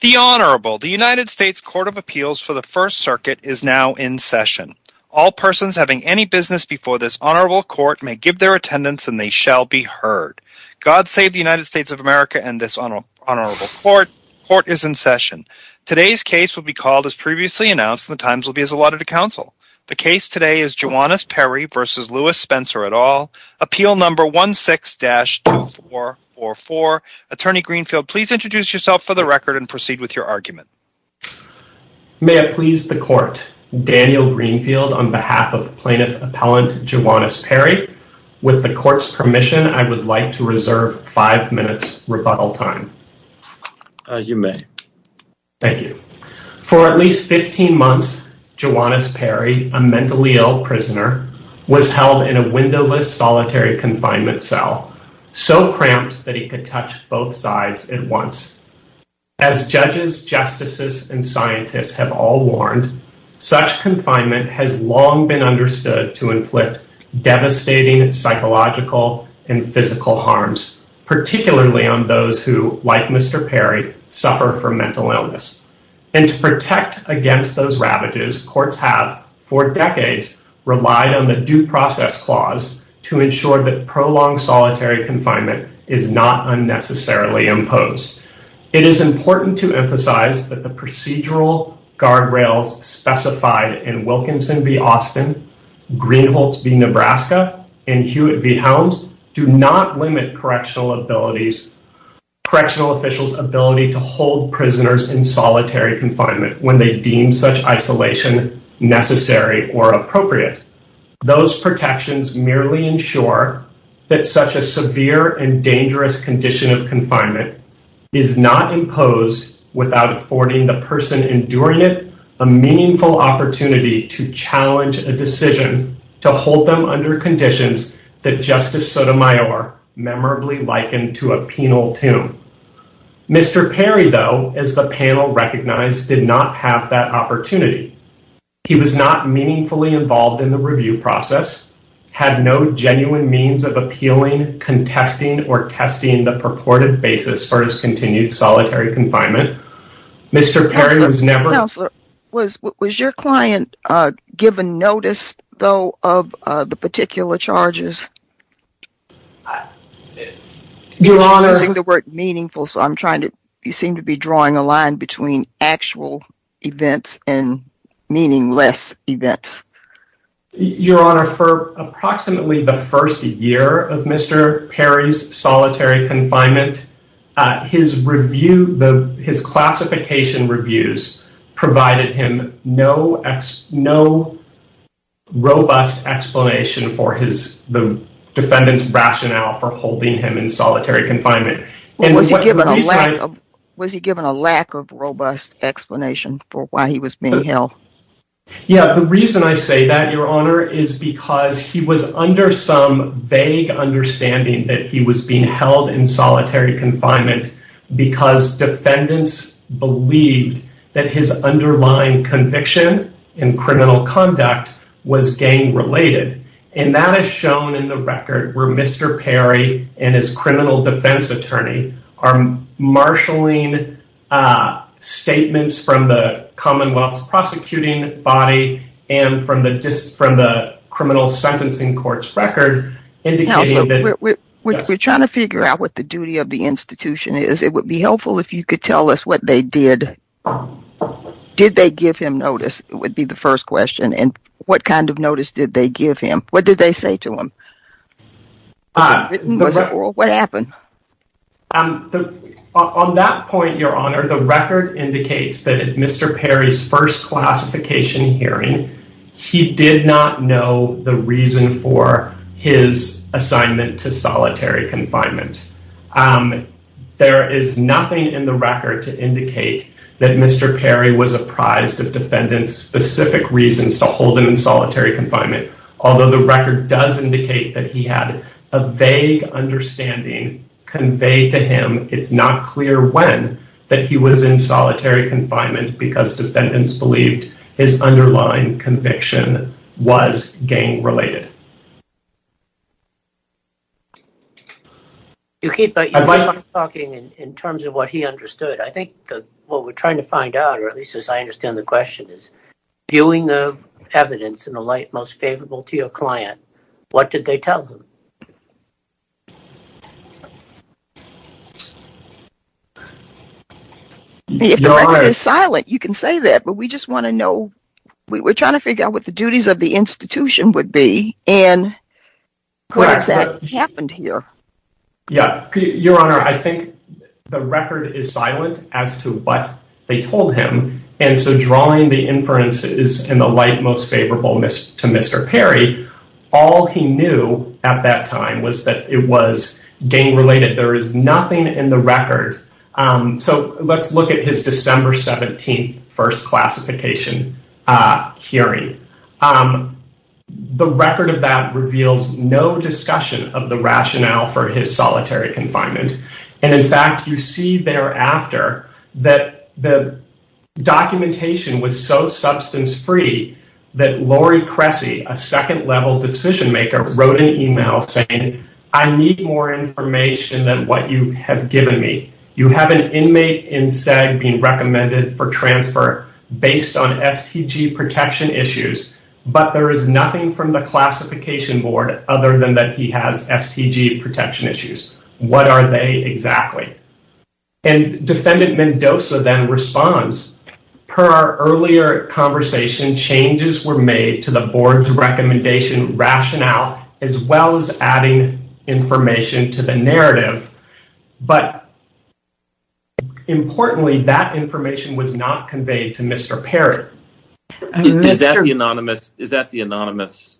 The Honorable, the United States Court of Appeals for the First Circuit is now in session. All persons having any business before this Honorable Court may give their attendance and they shall be heard. God save the United States of America and this Honorable Court is in session. Today's case will be called as previously announced and the times will be as allotted to counsel. The case today is Juwanis Perry v. Lewis Spencer et al. Appeal number 16-2444. Attorney Greenfield, please introduce yourself for the record and proceed with your argument. Daniel Greenfield May I please the court? Daniel Greenfield on behalf of plaintiff appellant Juwanis Perry. With the court's permission, I would like to reserve five minutes rebuttal time. Attorney General You may. Daniel Greenfield Thank you. For at least 15 months, Juwanis Perry, a mentally ill prisoner, was held in a windowless cell in a solitary confinement cell, so cramped that he could touch both sides at once. As judges, justices, and scientists have all warned, such confinement has long been understood to inflict devastating psychological and physical harms, particularly on those who, like Mr. Perry, suffer from mental illness. And to protect against those ravages, courts have, for decades, relied on the due process clause to ensure that prolonged solitary confinement is not unnecessarily imposed. It is important to emphasize that the procedural guardrails specified in Wilkinson v. Austin, Greenholtz v. Nebraska, and Hewitt v. Helms do not limit correctional officials' ability to hold prisoners in solitary confinement when they deem such isolation necessary or appropriate. Those protections merely ensure that such a severe and dangerous condition of confinement is not imposed without affording the person enduring it a meaningful opportunity to challenge a decision to hold them under conditions that Justice Sotomayor memorably likened to a penal tomb. Mr. Perry, though, as the panel recognized, did not have that opportunity. He was not meaningfully involved in the review process, had no genuine means of appealing, contesting, or testing the purported basis for his continued solitary confinement. Mr. Perry was never- Counselor, was your client given notice, though, of the particular charges? I don't think the word meaningful, so I'm trying to- you seem to be drawing a line between actual events and meaningless events. Your Honor, for approximately the first year of Mr. Perry's solitary confinement, his classification reviews provided him no robust explanation for the defendant's rationale for holding him in solitary confinement. Was he given a lack of robust explanation for why he was being held? Yeah, the reason I say that, Your Honor, is because he was under some vague understanding that he was being held in solitary confinement because defendants believed that his underlying conviction in criminal conduct was gang-related. And that is shown in the record where Mr. Perry and his criminal defense attorney are marshalling statements from the Commonwealth's prosecuting body and from the criminal sentencing court's record indicating that- Counselor, we're trying to figure out what the duty of the institution is. It would be helpful if you could tell us what they did. Did they give him notice, would be the first question. And what kind of notice did they give him? What did they say to him? What happened? On that point, Your Honor, the record indicates that in Mr. Perry's first classification hearing, he did not know the reason for his assignment to solitary confinement. There is nothing in the record to indicate that Mr. Perry was apprised of defendant's specific reasons to hold him in solitary confinement, although the record does indicate that he had a vague understanding conveyed to him. It's not clear when that he was in solitary confinement because defendants believed his underlying conviction was gang-related. You keep talking in terms of what he understood. I think what we're trying to find out, or at least as I understand the question, is viewing the evidence in the light most favorable to your client. What did they tell him? If the record is silent, you can say that, but we just want to know, we're trying to figure out what the duties of the institution would be and what exactly happened here. Your Honor, I think the record is silent as to what they told him, and so drawing the inference in the light most favorable to Mr. Perry, all he knew at that time was that it was gang-related. There is nothing in the record. Let's look at his December 17th first classification hearing. The record of that reveals no discussion of the rationale for his solitary confinement, and in fact, you see thereafter that the documentation was so substance-free that Lori Cressy, a second-level decision-maker, wrote an email saying, I need more information than what you have given me. You have an inmate in SED being recommended for transfer based on FCG protection issues, but there is nothing from the classification board other than that he has FCG protection issues. What are they exactly? And Defendant Mendoza then responds, per our earlier conversation, changes were made to the board's recommendation rationale as well as adding information to the narrative, but importantly, that information was not conveyed to Mr. Perry. Is that the anonymous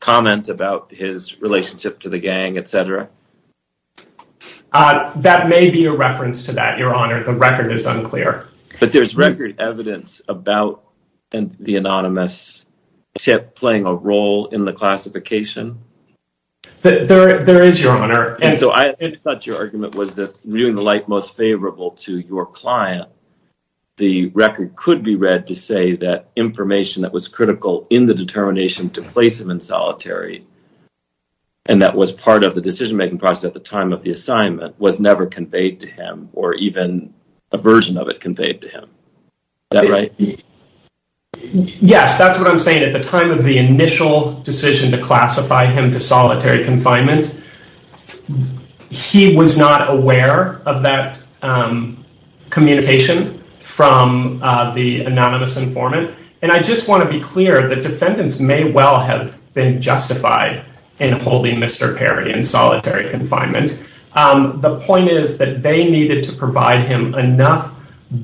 comment about his relationship to the gang, etc.? That may be a reference to that, Your Honor. The record is unclear. But there's record evidence about the anonymous playing a role in the classification? There is, Your Honor. And so I thought your argument was that, viewing the light most favorable to your client, the record could be read to say that information that was critical in the determination to place him in solitary, and that was part of the decision-making process at the time of the assignment, was never conveyed to him, or even a version of it conveyed to him. Is that right? Yes. That's what I'm saying. At the time of the initial decision to classify him to solitary confinement, he was not aware of that communication from the anonymous informant. And I just want to be clear that the sentence may well have been justified in holding Mr. Perry in solitary confinement. The point is that they needed to provide him enough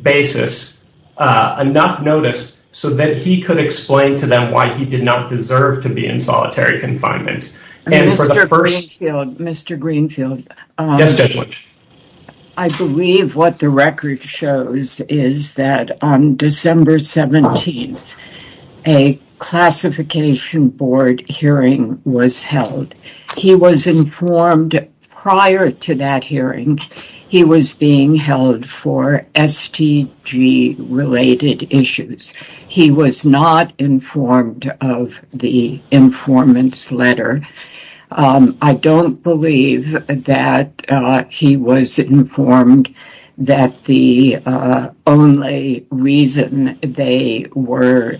basis, enough notice, so that he could explain to them why he did not deserve to be in solitary confinement. Mr. Greenfield, I believe what the record shows is that on December 17th, a classification board hearing was held. He was informed prior to that hearing, he was being held for STG-related issues. He was not informed of the informant's letter. I don't believe that he was informed that the only reason they were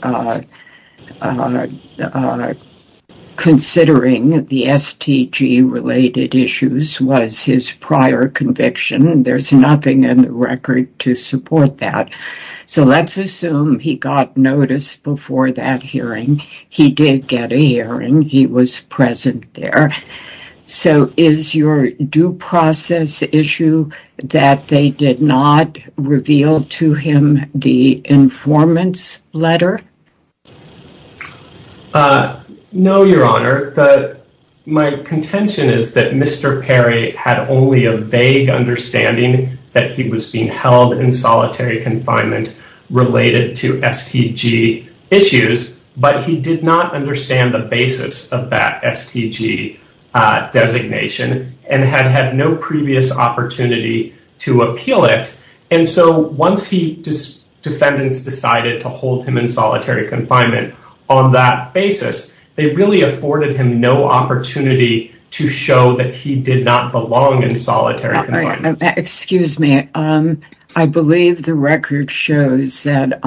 considering the STG-related issues was his prior conviction. There's nothing in the record to support that. So let's assume he got notice before that hearing. He did get a hearing. He was present there. So is your due process issue that they did not reveal to him the informant's letter? No, Your Honor. My contention is that Mr. Perry had only a vague understanding that he was being held in solitary confinement related to STG issues, but he did not understand the basis of that STG designation, and had had no previous opportunity to appeal it. So once the defendants decided to hold him in solitary confinement on that basis, they really afforded him no opportunity to show that he did not belong in solitary confinement. Excuse me. I believe the record shows that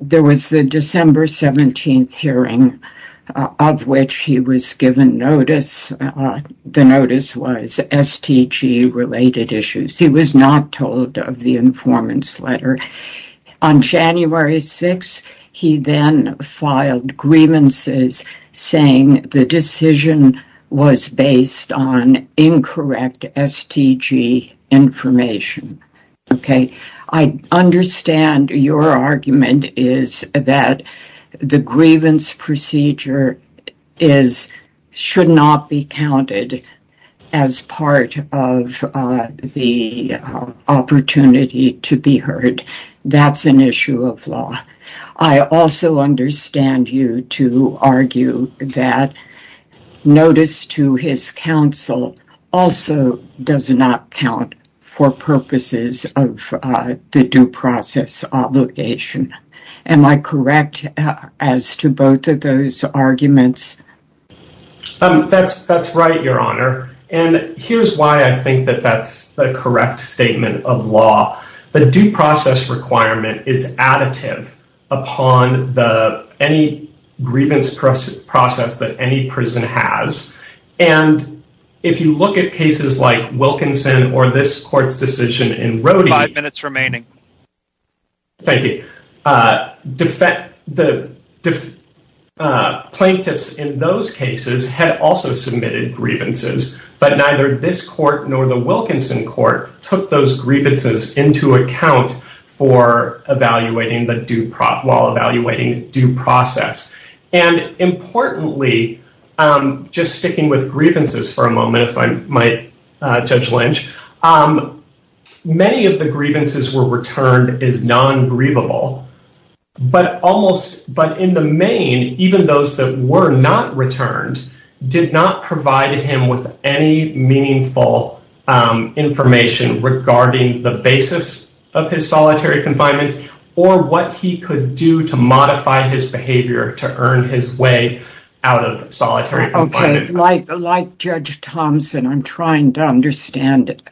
there was the December 17th hearing of which he was given notice. The notice was STG-related issues. He was not told of the informant's letter. On January 6th, he then filed grievances saying the decision was based on incorrect STG information. Okay? I understand your argument is that the grievance procedure should not be counted as part of the opportunity to be heard. That's an issue of law. I also understand you to argue that notice to his counsel also does not count for purposes of the due process obligation. Am I correct as to both of those arguments? That's right, Your Honor. And here's why I think that that's the correct statement of law. The due process requirement is additive upon any grievance process that any prison has. And if you look at cases like Wilkinson or this court's decision in Roe v. Five minutes remaining. Thank you. The plaintiffs in those cases had also submitted grievances, but neither this court nor the Wilkinson court took those grievances into account for evaluating the due process. And importantly, just sticking with grievances for a moment, if I might, Judge Lynch, many of the grievances were returned as non-grievable, but in the main, even those that were not returned did not provide him with any meaningful information regarding the basis of his solitary confinement or what he could do to modify his behavior to earn his way out of solitary confinement. Like Judge Thompson, I'm trying to understand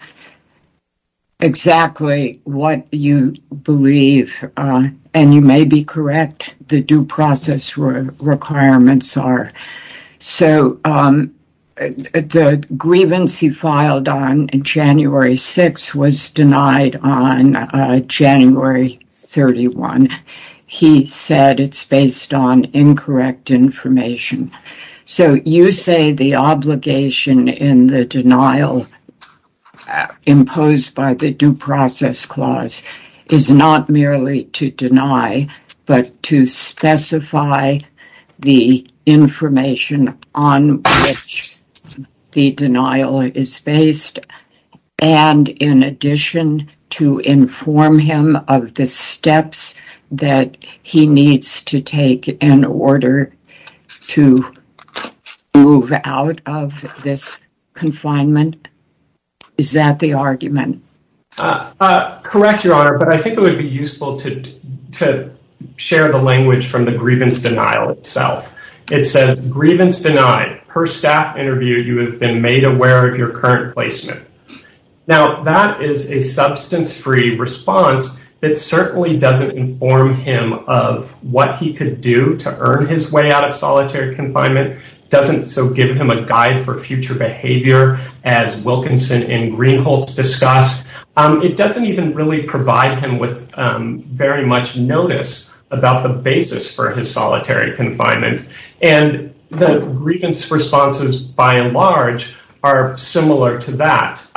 exactly what you believe. And you may be correct, the due process requirements are. So the grievance he filed on January 6th was denied on January 31st. He said it's based on incorrect information. So you say the obligation in the denial imposed by the due process clause is not merely to deny, but to specify the information on which the denial is based and in addition to inform him of the steps that he needs to take in order to move out of this confinement? Is that the argument? Correct, Your Honor, but I think it would be useful to share the language from the grievance denial itself. It says, grievance denied. Her staff interviewed you as they made aware of your current placement. Now, that is a substance-free response that certainly doesn't inform him of what he could do to earn his way out of solitary confinement, doesn't so give him a guide for future behavior as Wilkinson and Greenholz discussed. It doesn't even really provide him with very much notice about the basis for his solitary confinement. And the grievance responses by and large are similar to that.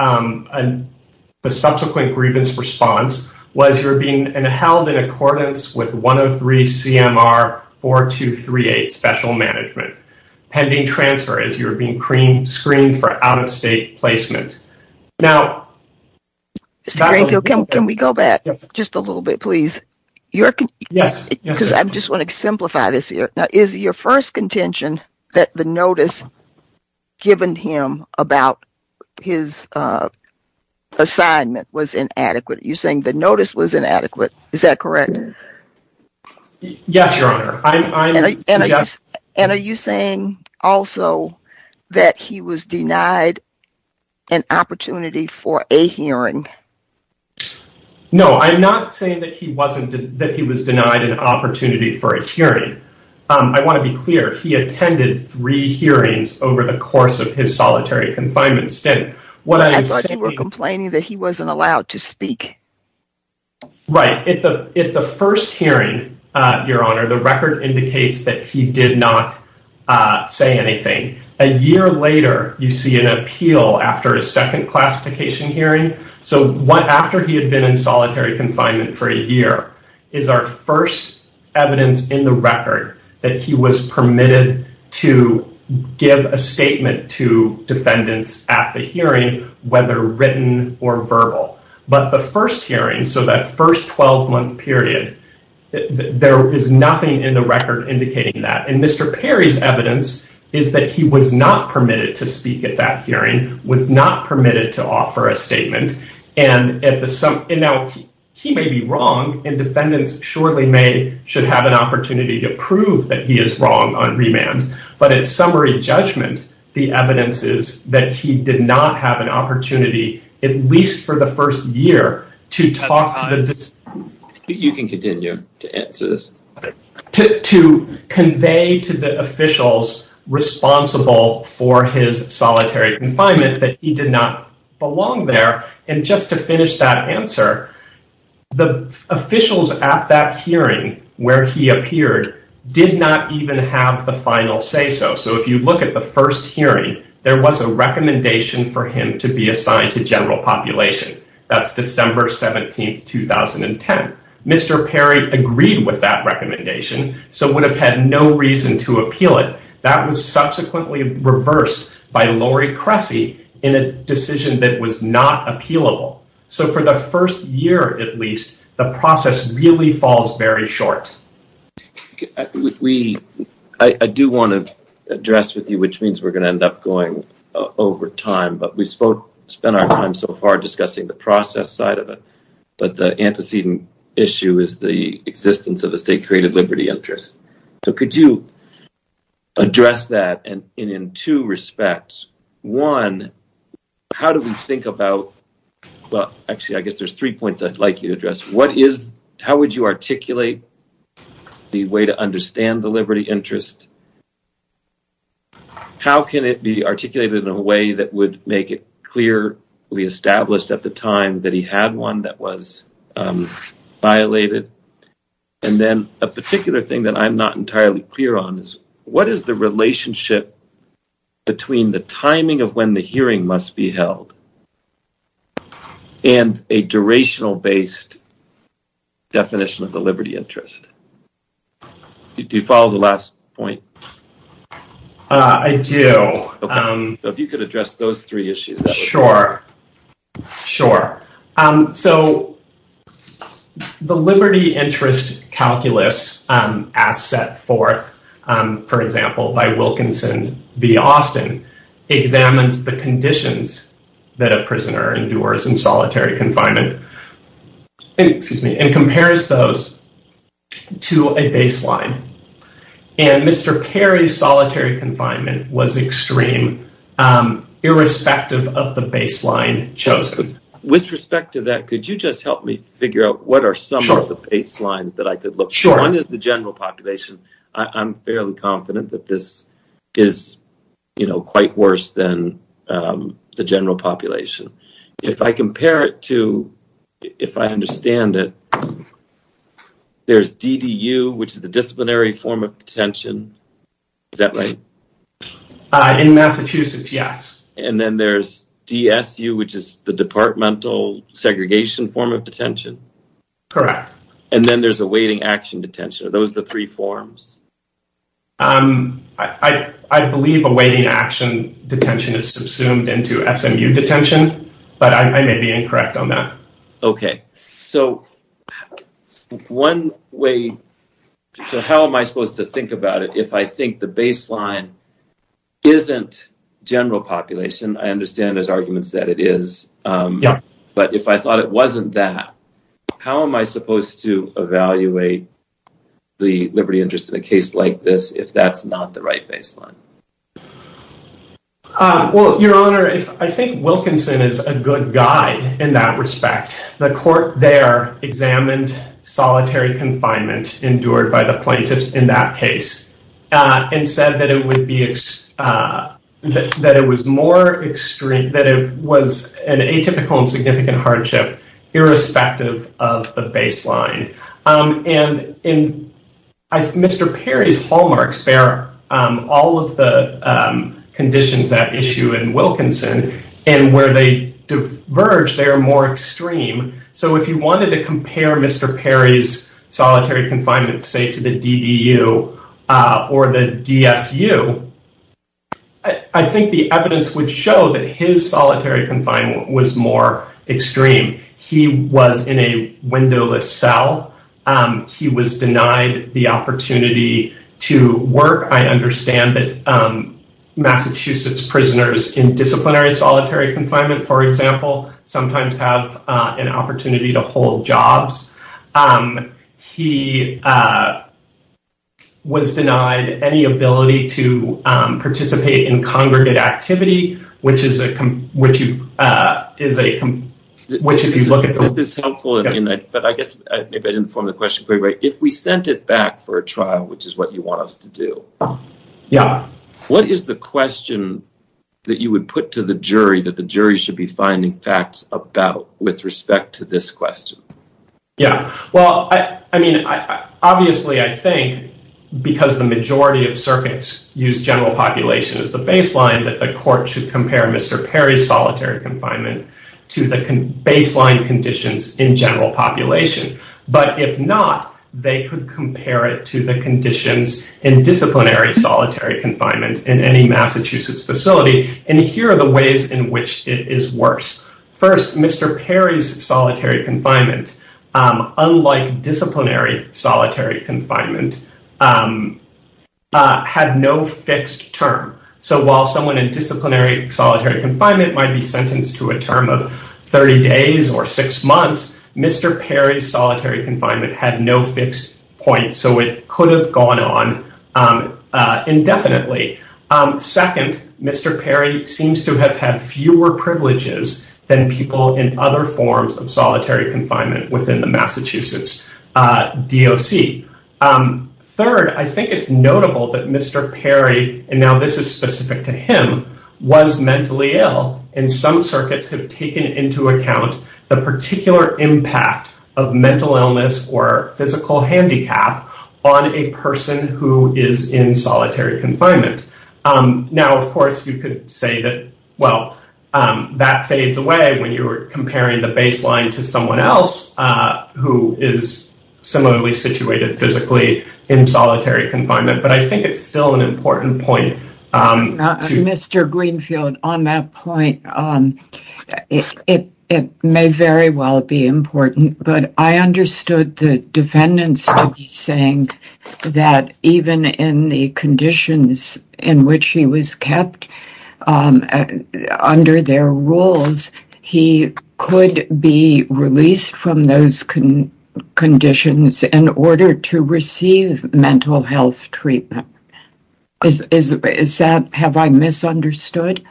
The subsequent grievance response was you're being held in accordance with 103 CMR 4238 Special Management. Pending transfer as you're being screened for out-of-state placement. Now... Can we go back just a little bit, please? Yes. I just want to simplify this here. Is your first contention that the notice given him about his assignment was inadequate? You're saying the notice was inadequate. Is that correct? Yes, Your Honor. And are you saying also that he was denied an opportunity for a hearing? No. I'm not saying that he was denied an opportunity for a hearing. I want to be clear. He attended three hearings over the course of his solitary confinement. You're complaining that he wasn't allowed to speak. Right. At the first hearing, Your Honor, the record indicates that he did not say anything. A year later, you see an appeal after a second classification hearing. So after he had been in solitary confinement for a year is our first evidence in the record that he was permitted to give a statement to defendants at the hearing, whether written or verbal. But the first hearing, so that first 12-month period, there is nothing in the record indicating that. And Mr. Perry's evidence is that he was not permitted to speak at that hearing, was not permitted to offer a statement. And now, he may be wrong, and defendants shortly made should have an opportunity to prove that he is wrong on remand. But in summary judgment, the evidence is that he did not have an opportunity, at least for the first year, to talk to the defendants. You can continue to answer this. To convey to the officials responsible for his solitary confinement that he did not belong there. And just to finish that answer, the officials at that hearing where he appeared did not even have the final say-so. So if you look at the first hearing, there was a recommendation for him to be assigned to general population. That's December 17, 2010. Mr. Perry agreed with that recommendation, so would have had no reason to appeal it. That was subsequently reversed by Lori Cressy in a decision that was not appealable. So for the first year, at least, the process really falls very short. I do want to address with you, which means we're going to end up going over time, but we've spent our time so far discussing the process side of it. But the antecedent issue is the existence of the state creative liberty interest. So could you address that in two respects? One, how do we think about, well, actually, I guess there's three points I'd like you to address. What is, how would you articulate the way to understand the liberty interest? How can it be articulated in a way that would make it clearly established at the time that he had one that was violated? And then a particular thing that I'm not entirely clear on is what is the relationship between the timing of when the hearing must be held and a durational-based definition of the liberty interest? Do you follow the last point? I do. So if you could address those three issues. Sure. Sure. So the liberty interest calculus as set forth, for example, by Wilkinson v. Austin examines the conditions that a prisoner endures in solitary confinement and compares those to a baseline. And Mr. Perry's solitary confinement was extreme, irrespective of the baseline chosen. With respect to that, could you just help me figure out what are some of the baselines that I could look at? Sure. One is the general population. I'm fairly confident that this is, you know, quite worse than the general population. If I compare it to, if I understand it, there's DDU, which is the disciplinary form of detention. Is that right? In Massachusetts, yes. And then there's DSU, which is the departmental segregation form of detention. Correct. And then there's awaiting action detention. Are those the three forms? I believe awaiting action detention is subsumed into SMU detention, but I may be incorrect on that. Okay. So one way, so how am I supposed to think about it if I think the baseline isn't general population? I understand there's arguments that it is, but if I thought it wasn't that, how am I if that's not the right baseline? Well, Your Honor, I think Wilkinson is a good guide in that respect. The court there examined solitary confinement endured by the plaintiffs in that case and said that it would be, that it was more extreme, that it was an atypical and significant hardship irrespective of the baseline. And in Mr. Perry's hallmarks, there are all of the conditions that issue in Wilkinson and where they diverge, they are more extreme. So if you wanted to compare Mr. Perry's solitary confinement, say, to the DDU or the DSU, I think the evidence would show that his solitary confinement was more extreme. He was in a windowless cell. He was denied the opportunity to work. I understand that Massachusetts prisoners in disciplinary solitary confinement, for example, sometimes have an opportunity to hold jobs. He was denied any ability to participate in congregate activity, which is a, which is a, which is he's looking for. But I guess if I didn't form the question, if we sent it back for a trial, which is what you want us to do. Yeah. What is the question that you would put to the jury that the jury should be finding facts about with respect to this question? Yeah, well, I mean, obviously, I think because the majority of circuits use general population as the baseline that the court should compare Mr. Perry's solitary confinement to the baseline conditions in general population. But if not, they could compare it to the conditions in disciplinary solitary confinement in any Massachusetts facility. And here are the ways in which it is worse. First, Mr. Perry's solitary confinement, unlike disciplinary solitary confinement, had no fixed term. So while someone in disciplinary solitary confinement might be sentenced to a term of 30 days or six months, Mr. Perry's solitary confinement had no fixed point. So it could have gone on indefinitely. Second, Mr. Perry seems to have had fewer privileges than people in other forms of solitary confinement within the Massachusetts DOC. Third, I think it's notable that Mr. Perry, and now this is specific to him, was mentally ill. And some circuits have taken into account the particular impact of mental illness or physical handicap on a person who is in solitary confinement. Now, of course, you could say that, well, that fades away when you're comparing the baseline to someone else who is similarly situated physically in solitary confinement. But I think it's still an important point. Now, Mr. Greenfield, on that point, it may very well be important. But I understood the defendants saying that even in the conditions in which he was kept under their rules, he could be released from those conditions in order to receive mental health treatment. Is that, have I misunderstood?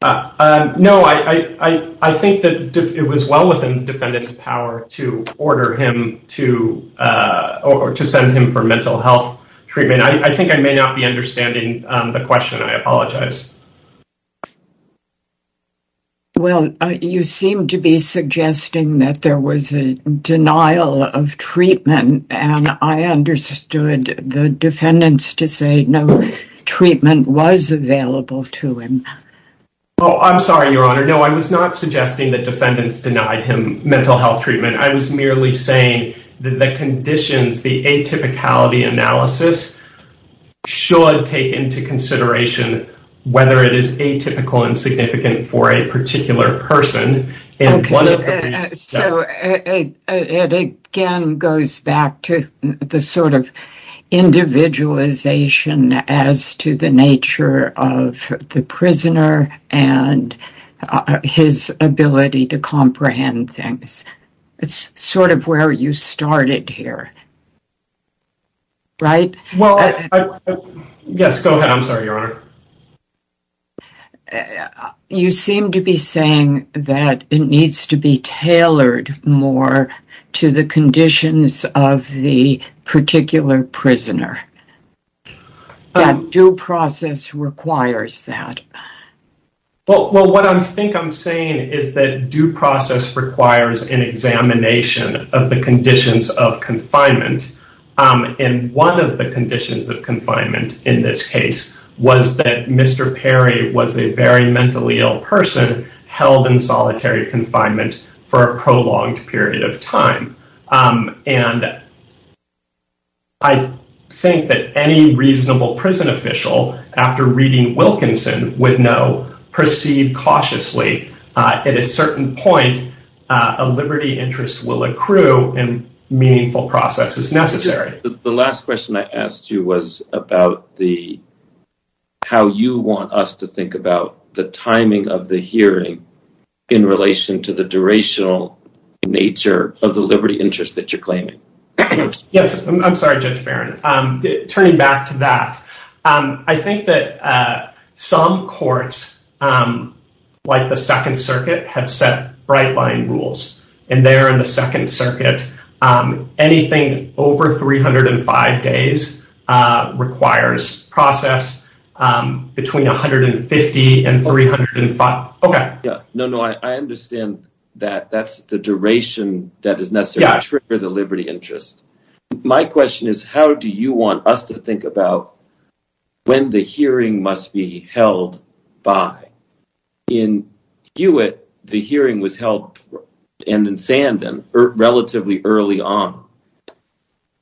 No, I think that it was well within the defendant's power to order him to or to send him for mental health treatment. I think I may not be understanding the question. I apologize. Well, you seem to be suggesting that there was a denial of treatment. And I understood the defendants to say no treatment was available to him. Oh, I'm sorry, Your Honor. No, I was not suggesting that defendants denied him mental health treatment. I was merely saying that the conditions, the atypicality analysis should take into consideration whether it is atypical and significant for a particular person. Okay, so it again goes back to the sort of individualization as to the nature of the prisoner and his ability to comprehend things. It's sort of where you started here. Right? Well, yes, go ahead. I'm sorry, Your Honor. You seem to be saying that it needs to be tailored more to the conditions of the particular prisoner. Due process requires that. Well, what I think I'm saying is that due process requires an examination of the conditions of confinement. And one of the conditions of confinement in this case was that Mr. Perry was a very mentally ill person held in solitary confinement for a prolonged period of time. And I think that any reasonable prison official, after reading Wilkinson, would know proceed cautiously. At a certain point, a liberty interest will accrue and meaningful process is necessary. The last question I asked you was about how you want us to think about the timing of the hearing in relation to the durational nature of the liberty interest that you're claiming. Yes. I'm sorry, Judge Barron. Turning back to that, I think that some courts, like the Second Circuit, have set bright line rules. And there in the Second Circuit, anything over 305 days requires process between 150 and 305. Okay. No, no. I understand that that's the duration that is necessary to trigger the liberty interest. My question is, how do you want us to think about when the hearing must be held by? In Hewitt, the hearing was held in Sandham relatively early on.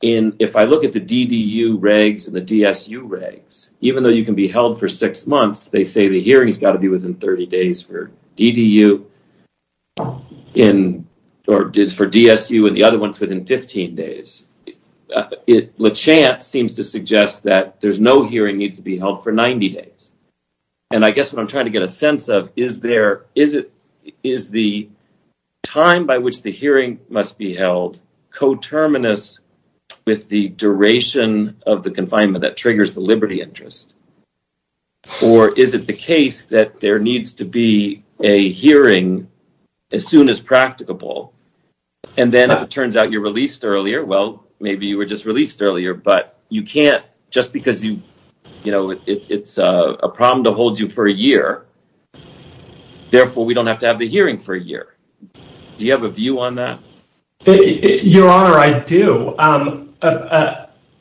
And if I look at the DDU regs and the DSU regs, even though you can be held for six months, they say the hearing has got to be within 30 days for DDU or for DSU and the DSU. LeChant seems to suggest that there's no hearing needs to be held for 90 days. And I guess what I'm trying to get a sense of, is the time by which the hearing must be held coterminous with the duration of the confinement that triggers the liberty interest? Or is it the case that there needs to be a hearing as soon as practicable? And then if it turns out you're released earlier, well, maybe you were just released earlier, but you can't, just because you, you know, it's a problem to hold you for a year, therefore we don't have to have the hearing for a year. Do you have a view on that? Your Honor, I do.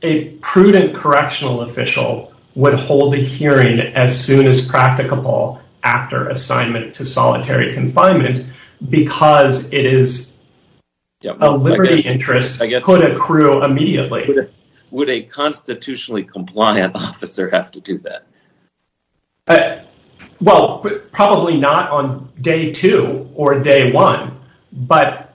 A prudent correctional official would hold the hearing as soon as practicable after assignment to solitary confinement because it is, a liberty interest could accrue immediately. Would a constitutionally compliant officer have to do that? Well, probably not on day two or day one, but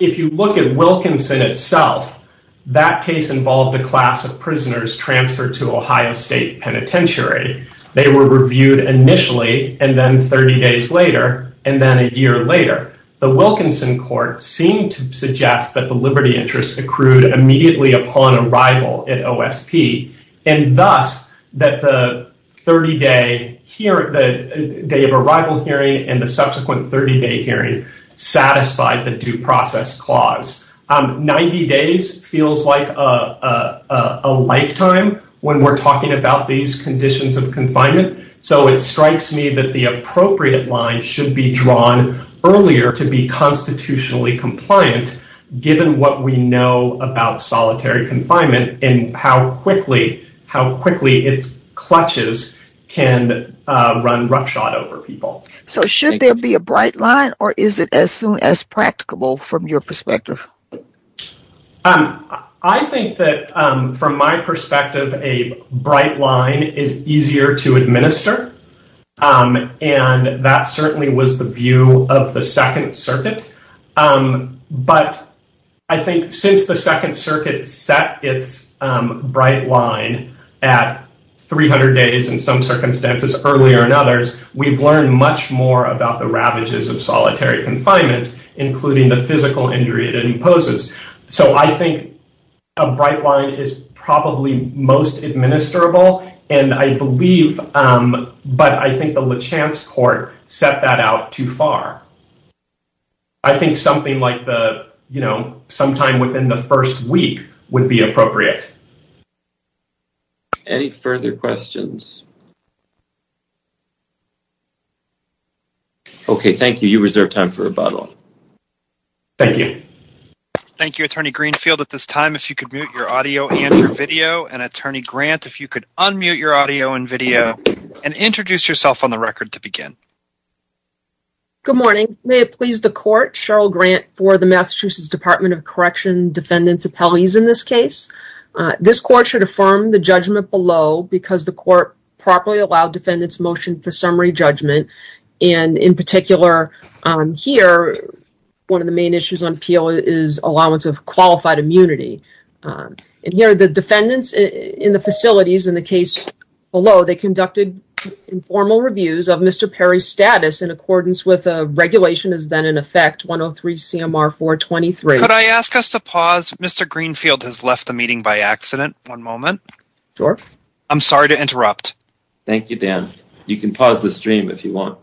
if you look at Wilkinson itself, that case involved a class of prisoners transferred to Ohio State Penitentiary. They were reviewed initially and then 30 days later and then a year later. The Wilkinson court seemed to suggest that the liberty interest accrued immediately upon arrival at OSP and thus that the 30 day, the day of arrival hearing and the subsequent 30 day hearing satisfied the due process clause. 90 days feels like a lifetime when we're talking about these conditions of confinement. So it strikes me that the appropriate line should be drawn earlier to be constitutionally compliant given what we know about solitary confinement and how quickly, how quickly its clutches can run roughshod over people. So should there be a bright line or is it as soon as practicable from your perspective? I think that from my perspective, a bright line is easier to administer. And that certainly was the view of the Second Circuit. But I think since the Second Circuit set its bright line at 300 days in some circumstances earlier in others, we've learned much more about the ravages of solitary confinement, including the physical injury that it imposes. So I think a bright line is probably most administrable and I believe, but I think the LaChance court set that out too far. I think something like the, you know, sometime within the first week would be appropriate. Any further questions? Okay. Thank you. You reserve time for rebuttal. Thank you. Thank you, Attorney Greenfield. At this time, if you could mute your audio and your video, and Attorney Grant, if you could unmute your audio and video and introduce yourself on the record to begin. Good morning. May it please the court, Cheryl Grant for the Massachusetts Department of Correction Defendant Appellees in this case. This court should affirm the judgment below because the court properly allowed defendants motion for summary judgment. And in particular, here, one of the main issues on appeal is allowance of qualified immunity. And here, the defendants in the facilities in the case below, they conducted informal reviews of Mr. Perry's status in accordance with a regulation that's been in effect, 103 CMR 423. Could I ask us to pause? Mr. Greenfield has left the meeting by accident. One moment. Sure. I'm sorry to interrupt. Thank you, Dan. You can pause the stream if you want.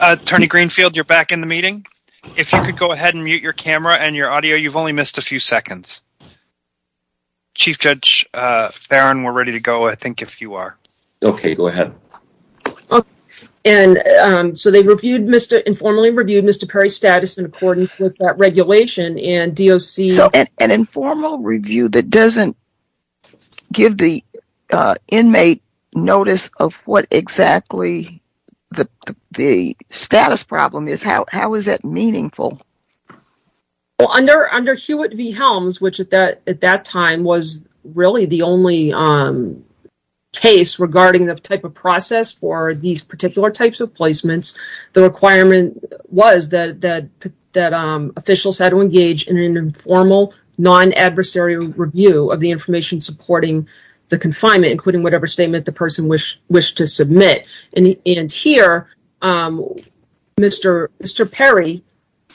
Attorney Greenfield, you're back in the meeting. If you could go ahead and mute your camera and your audio, you've only missed a few seconds. Chief Judge Farron, we're ready to go, I think, if you are. Okay, go ahead. Okay. And so they reviewed Mr. – informally reviewed Mr. Perry's status in accordance with that regulation and DOC – So an informal review that doesn't give the inmate notice of what exactly the status problem is, how is that meaningful? Well, under Hewitt v. Helms, which at that time was really the only case regarding this type of process for these particular types of placements, the requirement was that officials had to engage in an informal, non-adversary review of the information supporting the confinement, including whatever statement the person wished to submit. And here, Mr. Perry,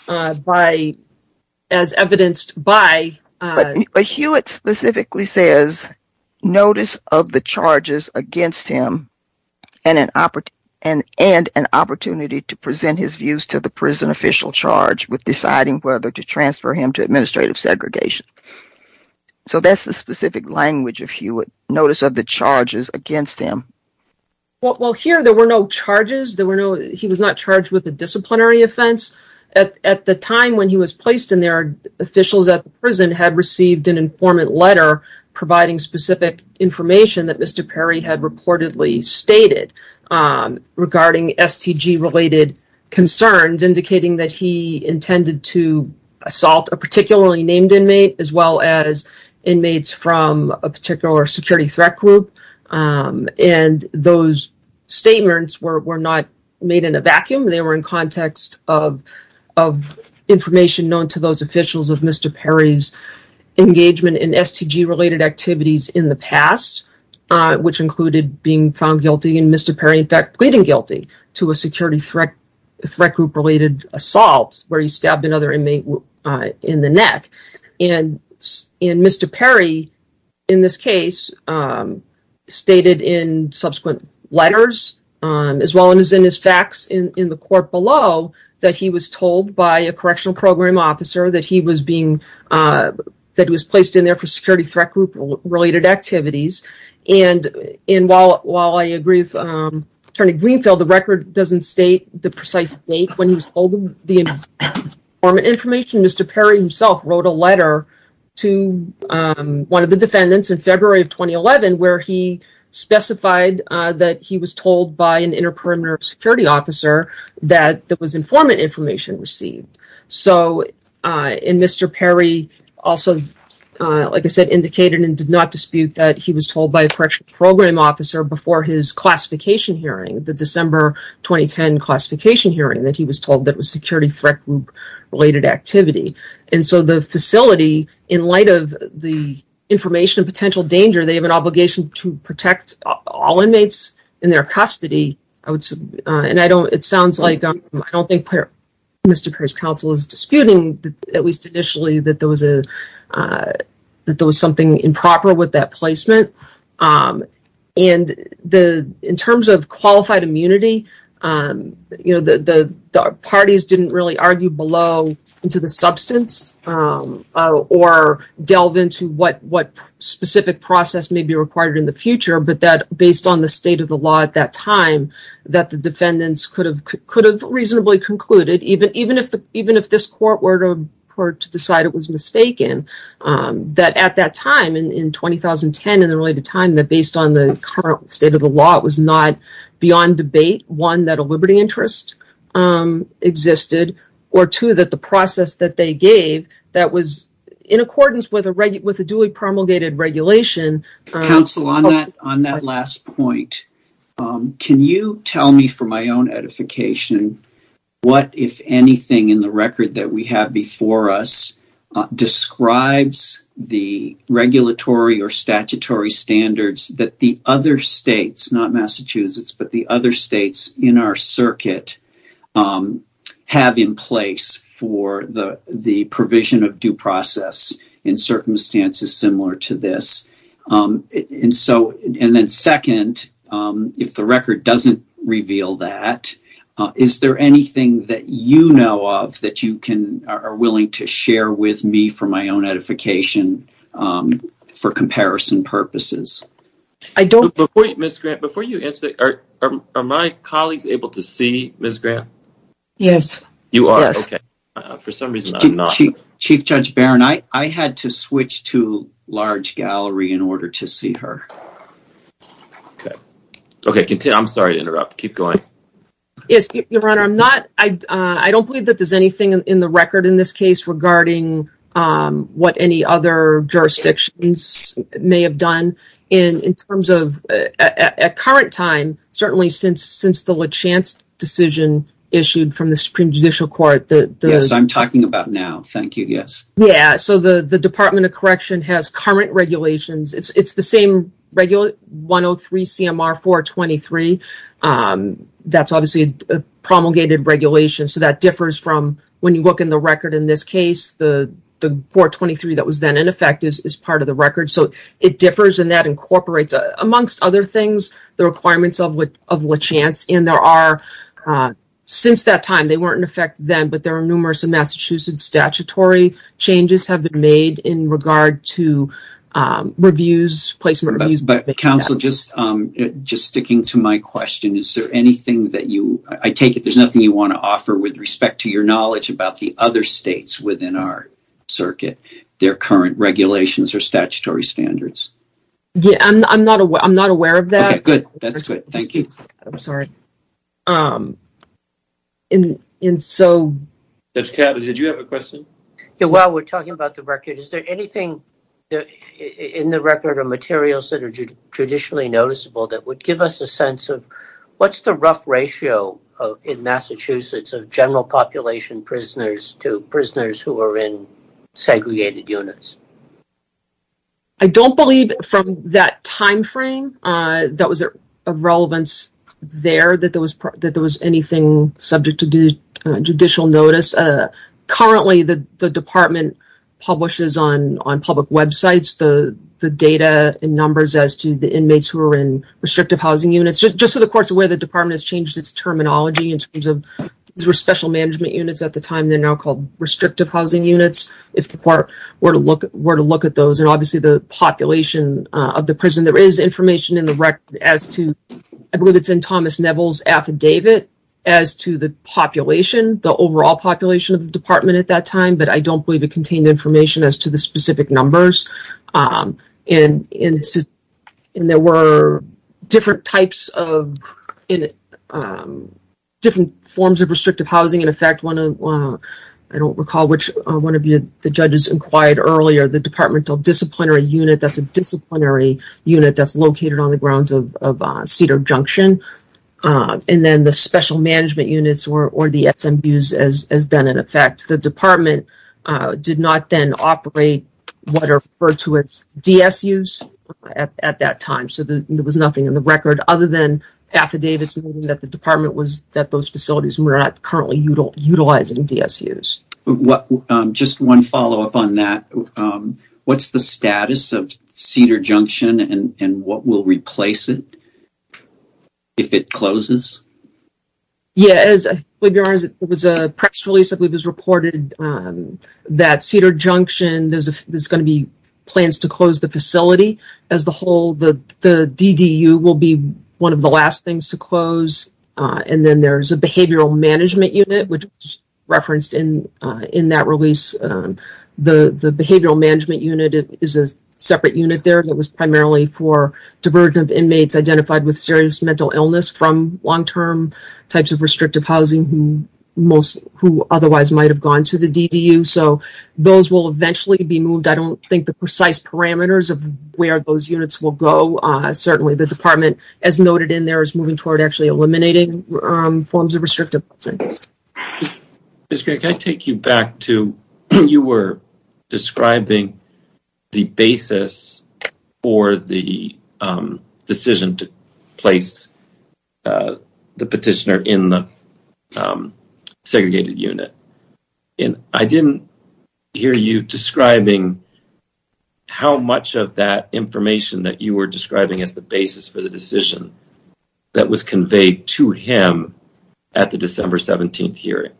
by – as evidenced by – But Hewitt specifically says, notice of the charges against him and an opportunity to present his views to the prison official charged with deciding whether to transfer him to administrative segregation. So that's the specific language of Hewitt, notice of the charges against him. Well, here there were no charges. There were no – he was not charged with a disciplinary offense. At the time when he was placed in there, officials at the prison had received an informant letter providing specific information that Mr. Perry had reportedly stated regarding STG-related concerns, indicating that he intended to assault a particularly named inmate as well as inmates from a particular security threat group. And they were in context of information known to those officials of Mr. Perry's engagement in STG-related activities in the past, which included being found guilty and Mr. Perry in fact pleading guilty to a security threat group-related assault where he stabbed another inmate in the neck. And Mr. Perry in this case stated in subsequent letters as well as in his facts in the court below that he was told by a correctional program officer that he was being – that he was placed in there for security threat group-related activities. And while I agree with Attorney Greenfield, the record doesn't state the precise date when he was told the informant information. Mr. Perry himself wrote a letter to one of the defendants in February of 2011 where he specified that he was told by an inter-primary security officer that there was informant information received. So – and Mr. Perry also, like I said, indicated and did not dispute that he was told by a correctional program officer before his classification hearing, the December 2010 classification hearing that he was told that was security threat group-related activity. And so the facility, in light of the information of potential danger, they have an obligation to protect all inmates in their custody. And I don't – it sounds like – I don't think Mr. Perry's counsel is disputing, at least initially, that there was a – that there was something improper with that placement. And the – in terms of qualified immunity, you know, the parties didn't really argue below into the substance or delve into what specific process may be required in the future, but that, based on the state of the law at that time, that the defendants could have reasonably concluded, even if this court were to decide it was mistaken, that at that time in 2010, in the related time, that based on the current state of the law, it was not beyond debate, one, that a liberty interest existed, or two, that the process that they gave that was in accordance with a – with a duly promulgated regulation – Counsel, on that last point, can you tell me, for my own edification, what, if anything, in the record that we have before us describes the regulatory or statutory standards that the other states – not Massachusetts, but the other states in our circuit – have in place for the provision of due process in circumstances similar to this? And so – and then second, if the record doesn't reveal that, is there anything that you know of that you can – are willing to share with me for my own edification for comparison purposes? I don't – Before you answer, are my colleagues able to see Ms. Graham? Yes. You are? Yes. Okay. For some reason, I'm not – Chief Judge Barron, I had to switch to large gallery in order to see her. Okay. Okay, continue. I'm sorry to interrupt. Keep going. Yes, Your Honor. I'm not – I don't believe that there's anything in the record in this case regarding what any other jurisdictions may have done in terms of – at current time, certainly since the Lachance decision issued from the Supreme Judicial Court, the – Yes. I'm talking about now. Thank you. Yes. Yeah. So the Department of Correction has current regulations. It's the same regular 103 CMR 423. That's obviously a promulgated regulation, so that differs from – when you look in the record in this case, the 423 that was then in effect is part of the record. So it differs, and that incorporates, amongst other things, the requirements of Lachance. And there are – since that time, they weren't in effect then, but there are numerous in Massachusetts statutory changes have been made in regard to reviews, placement reviews. But, counsel, just sticking to my question, is there anything that you – I take it there's nothing you want to offer with respect to your knowledge about the other states within our circuit, their current regulations or statutory standards? Yeah. I'm not aware of that. Okay. Good. That's good. Thank you. I'm sorry. And so – Judge Kava, did you have a question? Yeah. Well, we're talking about the record. Is there anything in the record or materials that are judicially noticeable that would give us a sense of what's the rough ratio in Massachusetts of general population prisoners to prisoners who are in segregated units? I don't believe from that timeframe that was of relevance there that there was anything subject to judicial notice. Currently, the department publishes on public websites the data and numbers as to the inmates who are in restrictive housing units. Just in the course of where the department has changed its terminology in terms of special management units at the time, they're now called restrictive housing units, if the court were to look at those. And obviously, the population of the prison, there is information in the record as to – I at that time, but I don't believe it contained information as to the specific numbers. And there were different types of – different forms of restrictive housing. In fact, one of – I don't recall which one of the judges inquired earlier. The departmental disciplinary unit, that's a disciplinary unit that's located on the grounds of Cedar Junction. And then the special management units, or the SMUs, has been in effect. The department did not then operate what are referred to as DSUs at that time, so there was nothing in the record other than affidavits that the department was – that those facilities were not currently utilizing DSUs. Just one follow-up on that. What's the status of Cedar Junction and what will replace it? If it closes? Yeah, as far as I'm aware, there was a press release that was reported that Cedar Junction – there's going to be plans to close the facility. As a whole, the DDU will be one of the last things to close. And then there's a behavioral management unit, which is referenced in that release. The behavioral management unit is a separate unit there. It was primarily for divergent inmates identified with serious mental illness from long-term types of restrictive housing who otherwise might have gone to the DDU. So those will eventually be moved. I don't think the precise parameters of where those units will go. Certainly, the department, as noted in there, is moving toward actually eliminating forms of restrictive housing. Mr. Gray, can I take you back to when you were describing the basis for the decision to place the petitioner in the segregated unit? And I didn't hear you describing how much of that information that you were describing as the basis for the decision that was conveyed to him at the December 17th hearing.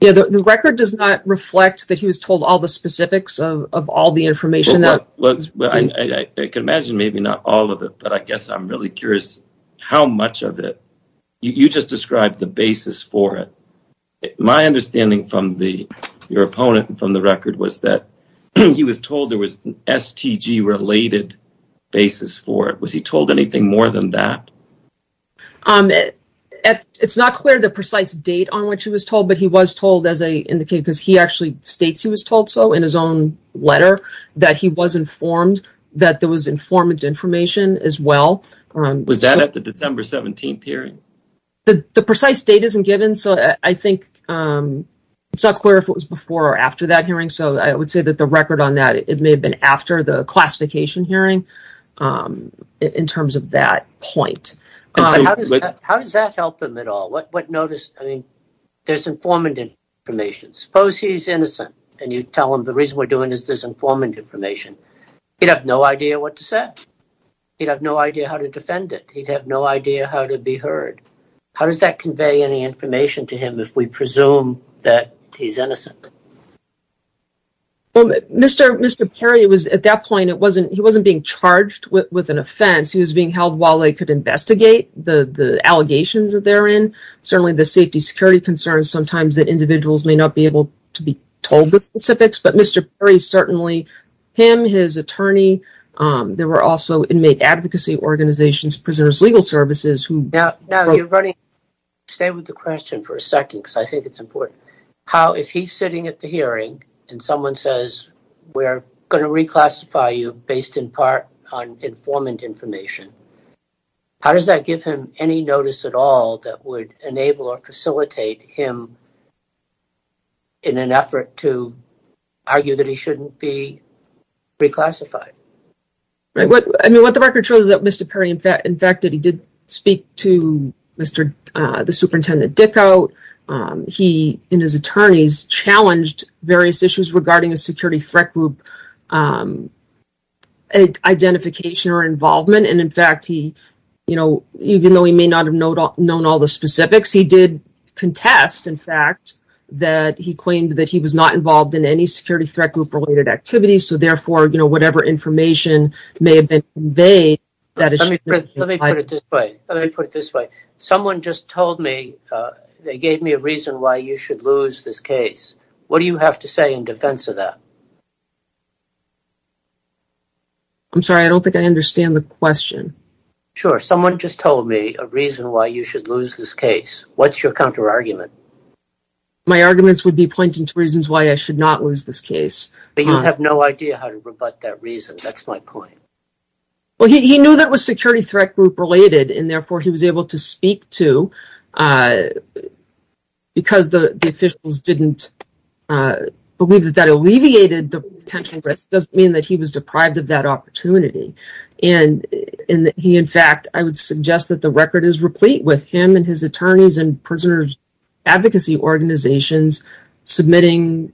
Yeah, the record does not reflect that he was told all the specifics of all the information. I can imagine maybe not all of it, but I guess I'm really curious how much of it. You just described the basis for it. My understanding from your opponent and from the record was that he was told there was an STG-related basis for it. Was he told anything more than that? It's not clear the precise date on which he was told, but he was told, as I indicated, because he actually states he was told so in his own letter, that he was informed that there was informant information as well. Was that at the December 17th hearing? The precise date isn't given, so I think it's not clear if it was before or after that hearing. So I would say that the record on that, it may have been after the classification hearing in terms of that point. How does that help him at all? What notice? I mean, there's informant information. Suppose he's innocent and you tell him the reason we're doing this is informant information. He'd have no idea what to say. He'd have no idea how to defend it. He'd have no idea how to be heard. How does that convey any information to him if we presume that he's innocent? Mr. Perry, at that point, he wasn't being charged with an offense. He was being held while they could investigate the allegations therein. Certainly the safety and security concerns, sometimes the individuals may not be able to be told the specifics, but Mr. Perry certainly, him, his attorney, there were also many advocacy organizations, prisoners' legal services. Stay with the question for a second because I think it's important. How, if he's sitting at the hearing and someone says we're going to reclassify you based in part on informant information, how does that give him any notice at all that would enable or facilitate him in an effort to argue that he shouldn't be reclassified? I mean, what the record shows is that Mr. Perry, in fact, that he did speak to Mr., the Superintendent Dicko, he and his attorneys challenged various issues regarding a security threat group identification or involvement, and in fact, he, you know, even though he may not have known all the specifics, he did contest, in fact, that he claimed that he was not involved in any security threat group-related activities, so therefore, you know, whatever information may have been conveyed- Let me put it this way. Let me put it this way. Someone just told me, they gave me a reason why you should lose this case. What do you have to say in defense of that? I'm sorry, I don't think I understand the question. Sure. Someone just told me a reason why you should lose this case. What's your counterargument? My arguments would be pointing to reasons why I should not lose this case. But you have no idea how to rebut that reason. That's my point. Well, he knew that was security threat group-related, and therefore, he was able to speak to, because the officials didn't believe that that alleviated the potential risk, doesn't mean that he was deprived of that opportunity. And he, in fact, I would suggest that the record is replete with him and his attorneys and prisoner's advocacy organizations submitting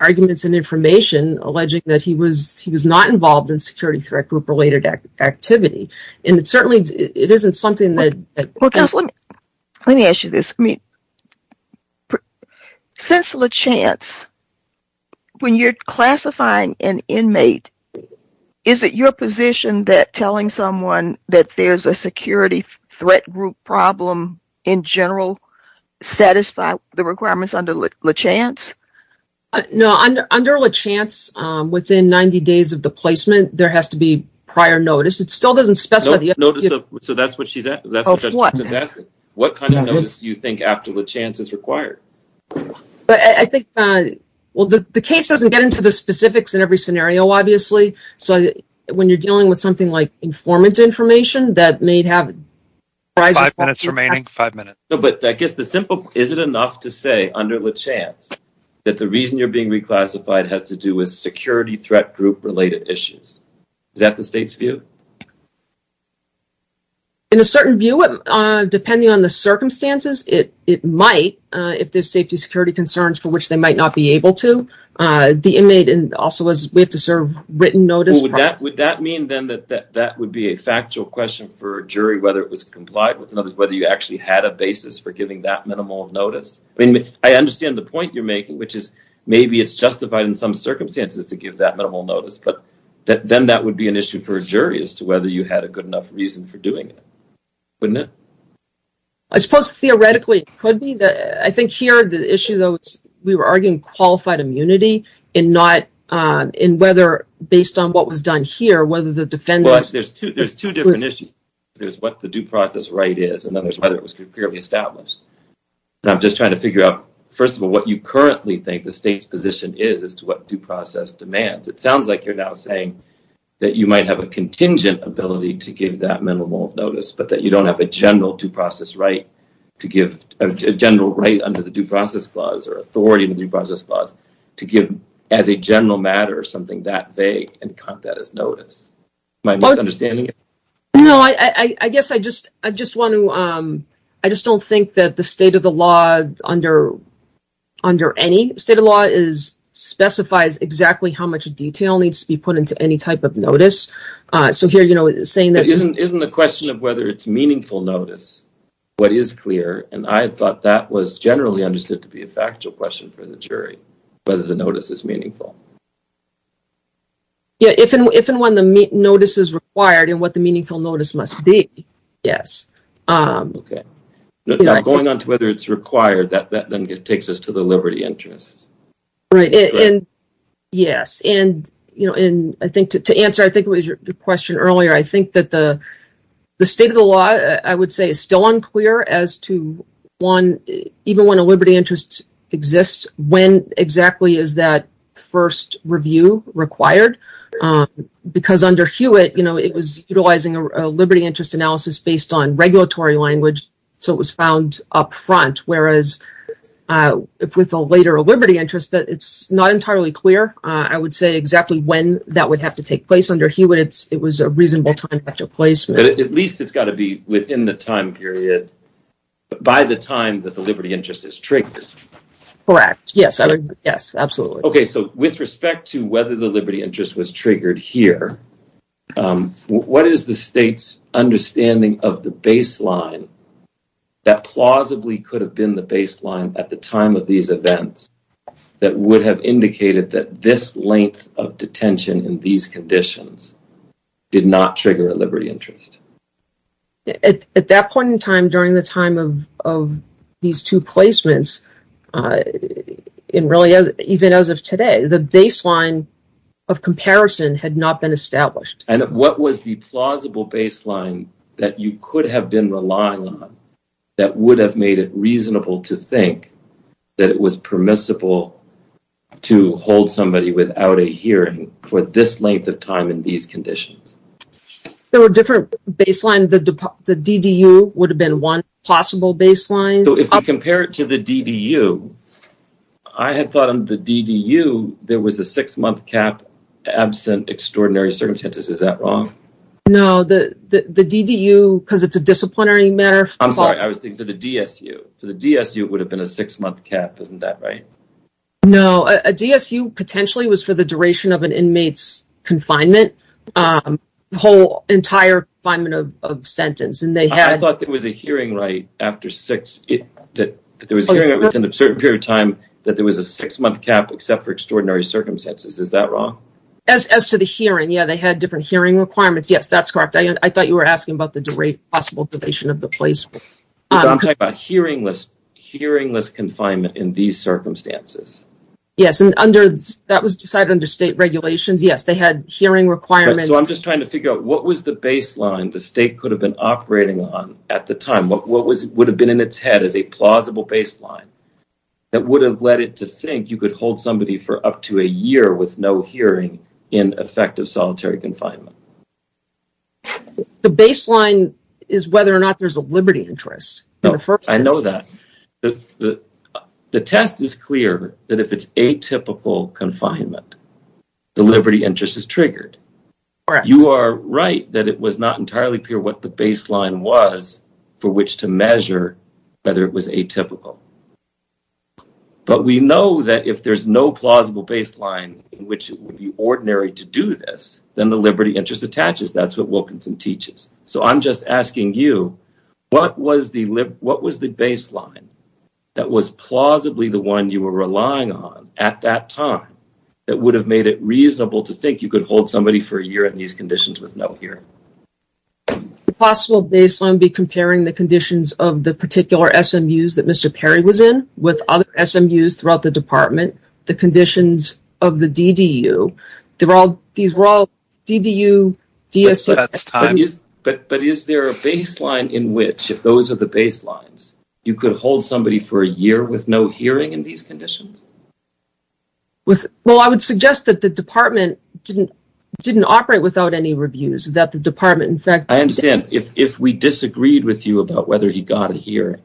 arguments and information alleging that he was not involved in security threat group-related activity. And certainly, it isn't something that- Let me ask you this. Since LaChance, when you're classifying an inmate, is it your position that telling someone that there's a security threat group problem in general satisfy the requirements under LaChance? No. Under LaChance, within 90 days of the placement, there has to be prior notice. It still doesn't specify- So that's what she said? Of what? What kind of notice do you think after LaChance is required? I think, well, the case doesn't get into the specifics in every scenario, obviously. So when you're dealing with something like informant information that may have- Five minutes remaining. Five minutes. But I guess the simple, is it enough to say under LaChance that the reason you're being reclassified has to do with security threat group-related issues? Is that the state's view? In a certain view, depending on the circumstances, it might, if there's safety security concerns for which they might not be able to, the inmate also has to serve written notice. Would that mean then that that would be a factual question for a jury, whether it was complied with notice, whether you actually had a basis for giving that minimal notice? I mean, I understand the point you're making, which is maybe it's justified in some circumstances to give that minimal notice, but then that would be an issue for a jury as to whether you had a good enough reason for doing it. Wouldn't it? I suppose theoretically it could be. I think here the issue, though, is we were arguing qualified immunity and whether based on what was done here, whether the defendant- There's two different issues. There's what the due process right is, and then there's whether it was clearly established. And I'm just trying to figure out, first of all, what you currently think the state's position is as to what due process demands. It sounds like you're now saying that you might have a contingent ability to give that minimal notice, but that you don't have a general due process right to give, a general right under the Due Process Clause or authority in the Due Process Clause to give as a general matter or something that they encountered as notice. Am I misunderstanding you? No, I guess I just want to- I just don't think that the state of the law under any state of law specifies exactly how much detail needs to be put into any type of notice. So here, you know, saying that- Isn't the question of whether it's meaningful notice what is clear? And I thought that was generally understood to be a factual question for the jury, whether the notice is meaningful. Yeah, if and when the notice is required and what the meaningful notice must be, yes. Okay. Now, going on to whether it's required, that then takes us to the liberty interest. Right, and yes. And, you know, and I think to answer, I think it was your question earlier, I think that the state of the law, I would say, is still unclear as to, one, even when a liberty interest exists, when exactly is that first review required? Because under Hewitt, you know, it was utilizing a liberty interest analysis based on regulatory language, so it was found up front. Whereas with a later liberty interest, it's not entirely clear. I would say exactly when that would have to take place. Under Hewitt, it was a reasonable time after placement. At least it's got to be within the time period by the time that the liberty interest is triggered. Correct, yes. Yes, absolutely. Okay, so with respect to whether the liberty interest was triggered here, what is the state's understanding of the baseline that plausibly could have been the baseline at the time of these events that would have indicated that this length of detention in these conditions did not trigger a liberty interest? At that point in time, during the time of these two placements, and really even as of today, the baseline of comparison had not been established. And what was the plausible baseline that you could have been relying on that would have made it reasonable to think that it was permissible to hold somebody without a hearing for this length of time in these conditions? There were different baselines. The DDU would have been one possible baseline. So if you compare it to the DDU, I had thought in the DDU, there was a six-month cap absent extraordinary circumstances. Is that wrong? No, the DDU, because it's a disciplinary matter. I'm sorry. I was thinking of the DSU. So the DSU would have been a six-month cap. Isn't that right? No. A DSU potentially was for the duration of an inmate's confinement, the whole entire confinement of sentence. I thought there was a hearing right after six. There was a hearing within a certain period of time that there was a six-month cap except for extraordinary circumstances. Is that wrong? As to the hearing, yeah, they had different hearing requirements. Yes, that's correct. I thought you were asking about the possible duration of the placement. I'm talking about hearingless confinement in these circumstances. Yes, and that was decided under state regulations. Yes, they had hearing requirements. So I'm just trying to figure out what was the baseline the state could have been operating on at the time? What would have been in its head as a plausible baseline that would have led it to think you could hold somebody for up to a year with no hearing in effective solitary confinement? The baseline is whether or not there's a liberty interest. I know that. The test is clear that if it's atypical confinement, the liberty interest is triggered. You are right that it was not entirely clear what the baseline was for which to measure whether it was atypical. But we know that if there's no plausible baseline in which it would be ordinary to do this, then the liberty interest attaches. That's what Wilkinson teaches. So I'm just asking you, what was the baseline that was plausibly the one you were relying on at that time that would have made it reasonable to think you could hold somebody for a year in these conditions with no hearing? The possible baseline would be comparing the conditions of the particular SMUs and the conditions of the DDU. These were all DDU, DSS. But is there a baseline in which, if those are the baselines, you could hold somebody for a year with no hearing in these conditions? Well, I would suggest that the department didn't operate without any reviews. I understand. If we disagreed with you about whether you got a hearing,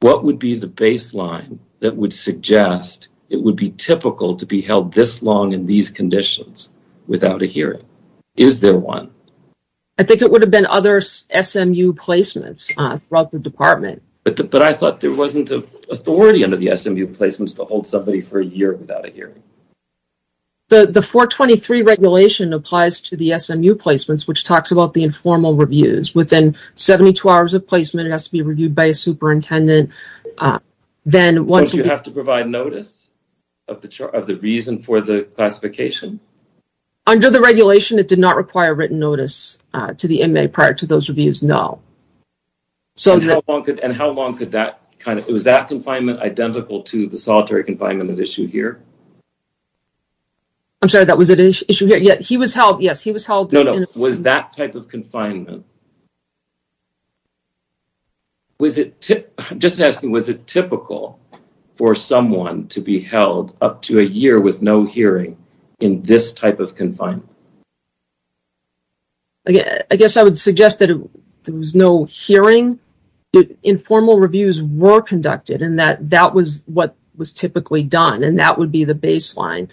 What would be the baseline that would suggest it would be typical to be held this long in these conditions without a hearing? Is there one? I think it would have been other SMU placements throughout the department. But I thought there wasn't authority under the SMU placements to hold somebody for a year without a hearing. The 423 regulation applies to the SMU placements, which talks about the informal reviews. It's within 72 hours of placement. It has to be reviewed by a superintendent. Don't you have to provide notice of the reason for the classification? Under the regulation, it did not require written notice to the inmate prior to those reviews, no. And how long could that kind of – was that confinement identical to the solitary confinement issue here? I'm sorry, that was an issue here. Yes, he was held. No, no. Was that type of confinement – I'm just asking, was it typical for someone to be held up to a year with no hearing in this type of confinement? I guess I would suggest that there was no hearing. Informal reviews were conducted, and that was what was typically done, and that would be the baseline.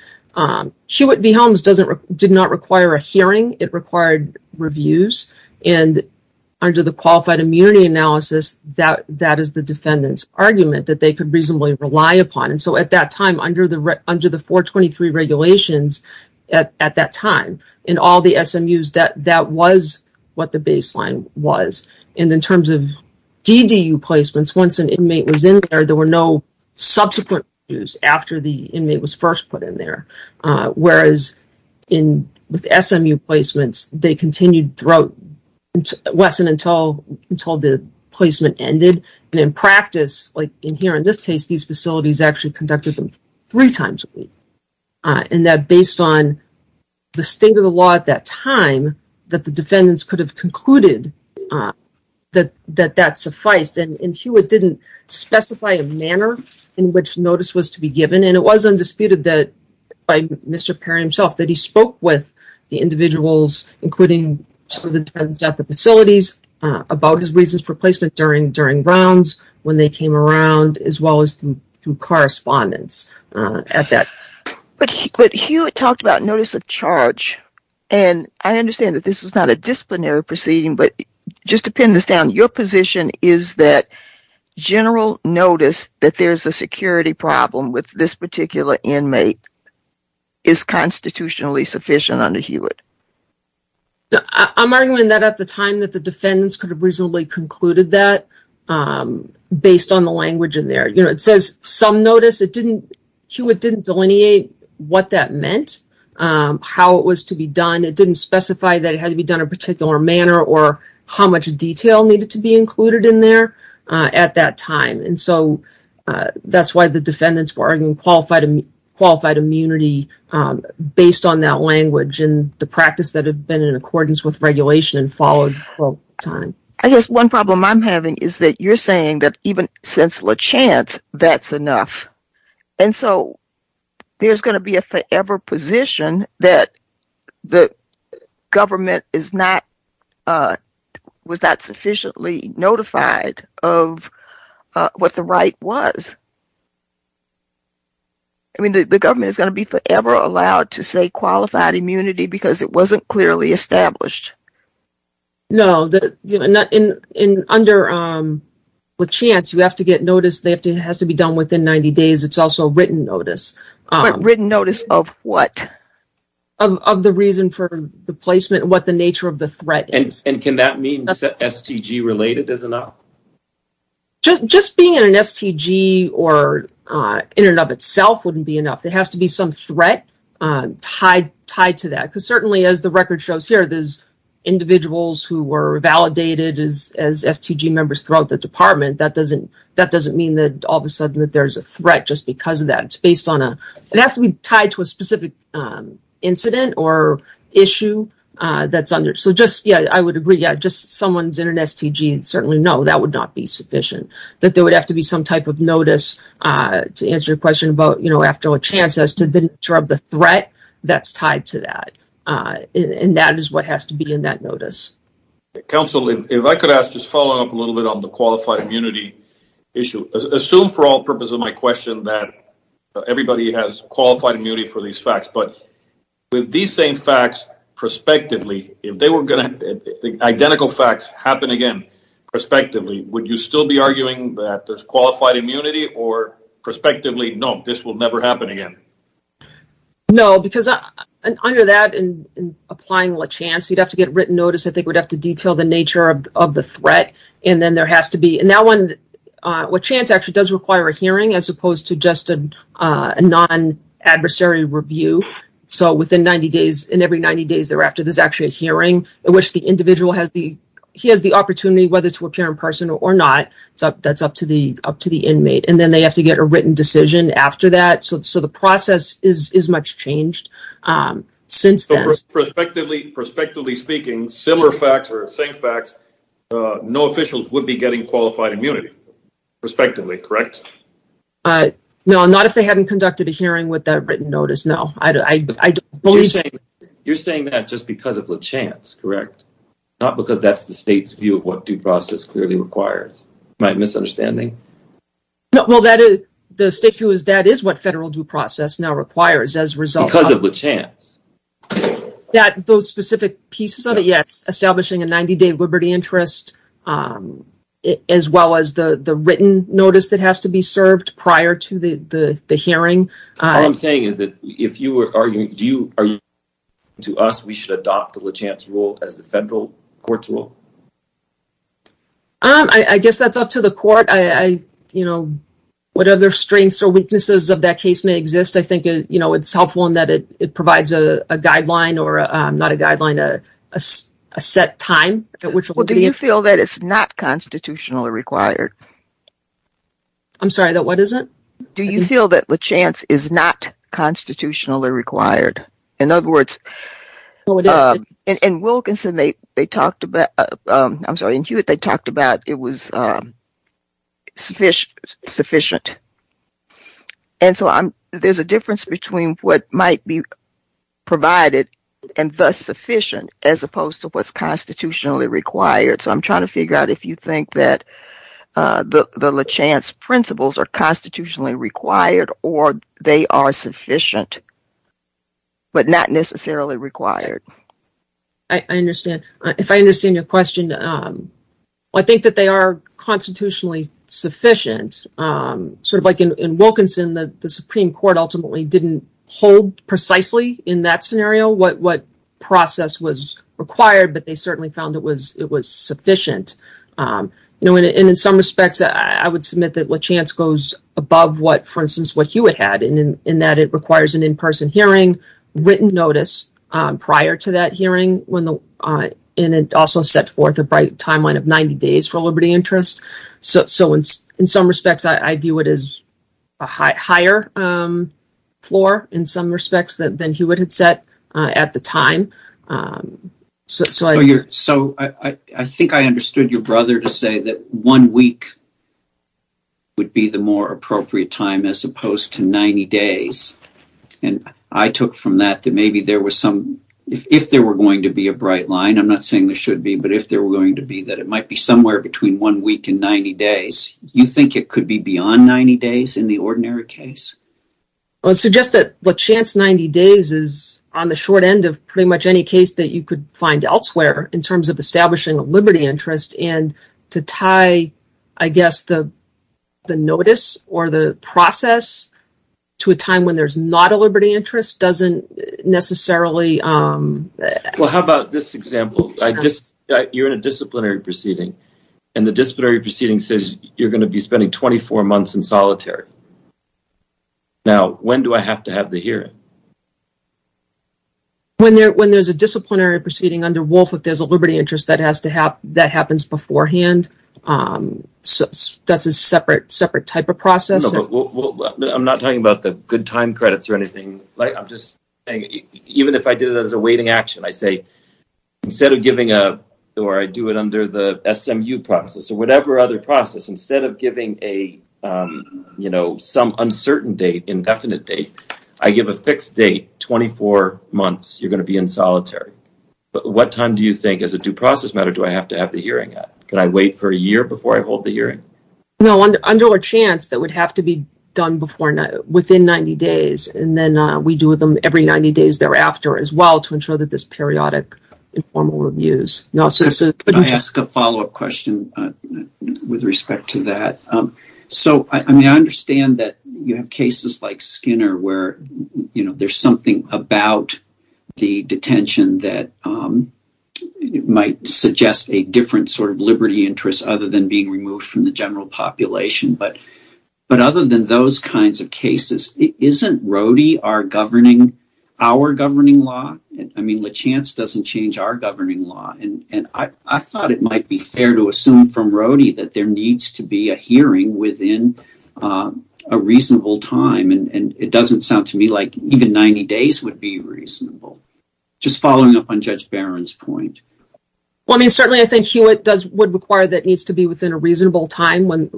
Hewitt v. Holmes did not require a hearing. It required reviews. And under the qualified immunity analysis, that is the defendant's argument that they could reasonably rely upon. And so at that time, under the 423 regulations at that time, in all the SMUs, that was what the baseline was. And in terms of DDU placements, once an inmate was in there, there were no subsequent reviews after the inmate was first put in there, whereas in SMU placements, they continued throughout – it wasn't until the placement ended. And in practice, like in here in this case, these facilities actually conducted them three times a week, and that based on the state of the law at that time, that the defendants could have concluded that that sufficed. And Hewitt didn't specify a manner in which notice was to be given, and it was undisputed by Mr. Perry himself that he spoke with the individuals, including some of the defendants at the facilities, about his reasons for placement during rounds, when they came around, as well as through correspondence at that. But Hewitt talked about notice of charge, and I understand that this is not a disciplinary proceeding, but just to pin this down, your position is that general notice that there's a security problem with this particular inmate is constitutionally sufficient under Hewitt? I'm arguing that at the time that the defendants could have reasonably concluded that based on the language in there. It says some notice. Hewitt didn't delineate what that meant, how it was to be done. And it didn't specify that it had to be done in a particular manner or how much detail needed to be included in there at that time. And so that's why the defendants were arguing qualified immunity based on that language and the practice that had been in accordance with regulation and followed through all the time. I guess one problem I'm having is that you're saying that even since LeChant, that's enough. And so there's going to be a forever position that the government was not sufficiently notified of what the right was. I mean, the government is going to be forever allowed to say qualified immunity because it wasn't clearly established. No, under LeChant, you have to get notice that it has to be done within 90 days. It's also written notice. But written notice of what? Of the reason for the placement and what the nature of the threat is. And can that mean that STG related is enough? Just being in an STG or in and of itself wouldn't be enough. There has to be some threat tied to that. Because certainly as the record shows here, there's individuals who were validated as STG members throughout the department. That doesn't mean that all of a sudden that there's a threat just because of that. It has to be tied to a specific incident or issue that's under. So just, yeah, I would agree, yeah, just someone's in an STG, certainly no, that would not be sufficient. That there would have to be some type of notice to answer a question about, you know, after a chance as to the threat that's tied to that. And that is what has to be in that notice. Counsel, if I could ask, just follow up a little bit on the qualified immunity issue. Assume for all purposes of my question that everybody has qualified immunity for these facts. But with these same facts prospectively, if they were going to have identical facts happen again prospectively, would you still be arguing that there's qualified immunity or prospectively, no, this will never happen again? No, because under that and applying what chance, you'd have to get written notice. I think we'd have to detail the nature of the threat. And then there has to be, and that one, what chance actually does require a hearing as opposed to just a non adversary review. So within 90 days and every 90 days thereafter, there's actually a hearing in which the individual has the, he has the opportunity whether to appear in person or not. So that's up to the, up to the inmate. And then they have to get a written decision after that. So, so the process is, is much changed. So prospectively, prospectively speaking, similar facts or same facts, no officials would be getting qualified immunity. Prospectively, correct? No, not if they hadn't conducted a hearing with that written notice. No, I don't. You're saying that just because of the chance, correct? Not because that's the state's view of what due process clearly requires. Am I misunderstanding? No. Well, that is the stick through is that is what federal due process now is result of the chance that those specific pieces of it. Yes. Establishing a 90 day liberty interest as well as the, the written notice that has to be served prior to the, the, the hearing. I'm saying is that if you were arguing, do you, are you to us, we should adopt the chance rule as the federal court tool. I guess that's up to the court. I, I, you know, what other strengths or weaknesses of that case may exist. I think, you know, it's helpful in that it provides a guideline or not a guideline, a, a set time. Well, do you feel that it's not constitutionally required? I'm sorry, that what is it? Do you feel that the chance is not constitutionally required? In other words, and Wilkinson, they, they talked about, I'm sorry, they talked about it was sufficient sufficient. And so I'm, there's a difference between what might be provided and thus sufficient as opposed to what's constitutionally required. So I'm trying to figure out if you think that the chance principles are constitutionally required or they are sufficient, but not necessarily required. I understand. If I understand your question, I think that they are constitutionally sufficient. Sort of like in Wilkinson, the Supreme Court ultimately didn't hold precisely in that scenario what, what process was required, but they certainly found it was, it was sufficient. And in some respects, I would submit that what chance goes above what, for instance, what Hewitt had in, in that it requires an in-person hearing, written notice prior to that hearing when the, and it also sets forth a bright timeline of 90 days for liberty interest. So, so in, in some respects, I view it as a high higher floor in some respects than, than Hewitt had set at the time. So I, so I, I think I understood your brother to say that one week would be the more appropriate time as opposed to 90 days. And I took from that that maybe there was some, if there were going to be a bright line, I'm not saying there should be, but if there were going to be, that it might be somewhere between one week and 90 days, you think it could be beyond 90 days in the ordinary case? I would suggest that the chance 90 days is on the short end of pretty much any case that you could find elsewhere in terms of establishing a liberty interest and to tie, I guess, the notice or the process to a time when there's not a liberty interest doesn't necessarily. Well, how about this example? You're in a disciplinary proceeding and the disciplinary proceeding says you're going to be spending 24 months in solitary. Now, when do I have to have the hearing? When there, when there's a disciplinary proceeding under Wolf, if there's a liberty interest that has to have, that happens beforehand. That's a separate, separate type of process. I'm not talking about the good time credits or anything. I'm just saying, even if I did it as a waiting action, I say, instead of giving a, or I do it under the SMU process or whatever other process, instead of giving a, you know, some uncertain date, indefinite date, I give a fixed date, 24 months, you're going to be in solitary. But what time do you think as a due process matter, do I have to have the hearing? Can I wait for a year before I hold the hearing? No, under a chance that would have to be done before, within 90 days. And then we do them every 90 days thereafter as well, to ensure that there's periodic informal reviews. Can I ask a follow-up question with respect to that? So, I mean, I understand that you have cases like Skinner where, you know, there's something about the detention that might suggest a different sort of liberty interest other than being removed from the general population. But other than those kinds of cases, isn't Rody our governing law? I mean, LaChance doesn't change our governing law. And I thought it might be fair to assume from Rody that there needs to be a hearing within a reasonable time. And it doesn't sound to me like even 90 days would be reasonable. Just following up on Judge Barron's point. Well, I mean, certainly I think he would require that it needs to be within a reasonable time when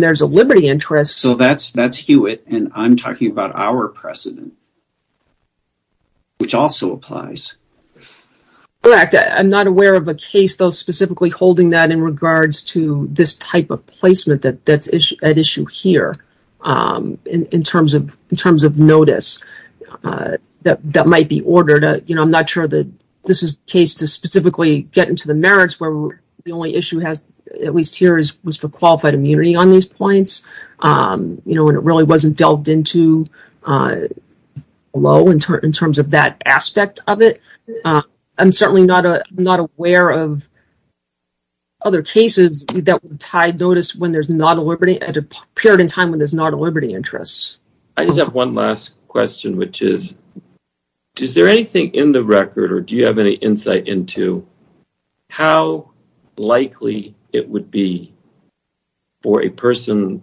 there's a liberty interest. So that's Hewitt. And I'm talking about our precedent, which also applies. Correct. I'm not aware of a case, though, specifically holding that in regards to this type of placement that's at issue here in terms of notice that might be ordered. You know, I'm not sure that this is the case to specifically get into the merits where the only issue at least here was for qualified immunity on these points. You know, and it really wasn't delved into below in terms of that aspect of it. I'm certainly not aware of other cases that tied notice when there's not a liberty at a period in time when there's not a liberty interest. I just have one last question, which is, is there anything in the record or do you have any insight into how likely it would be for a person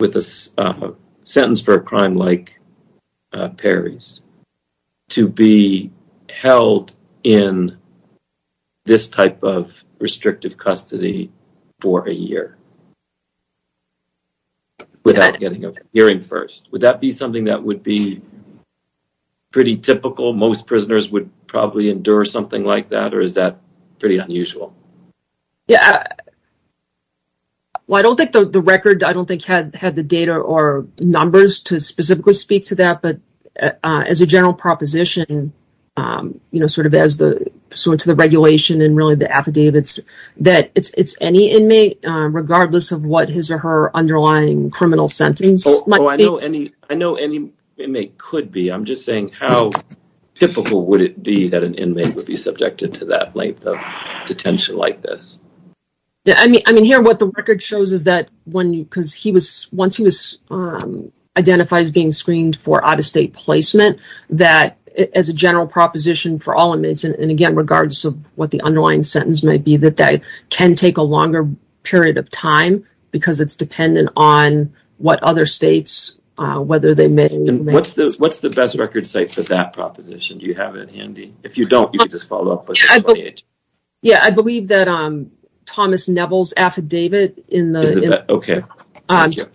with a sentence for a crime like Perry's to be held in this type of restrictive custody for a year without getting a hearing first? Would that be something that would be pretty typical? Most prisoners would probably endure something like that, or is that pretty unusual? Yeah. Well, I don't think the record, I don't think, had the data or numbers to specifically speak to that. But as a general proposition, you know, sort of as the regulation and really the affidavits, that it's any inmate, regardless of what his or her underlying criminal sentencing might be. I know any inmate could be. I'm just saying how typical would it be that an inmate would be subjected to that length of detention like this? I mean, here what the record shows is that once he was identified as being screened for out-of-state placement, that as a general proposition for all inmates, and again, regardless of what the underlying sentence might be, that that can take a longer period of time because it's dependent on what other states, whether they may or may not. And what's the best record site for that proposition? Do you have it handy? If you don't, you can just follow up with it. Yeah, I believe that Thomas Neville's affidavit in the... Okay. Thank you.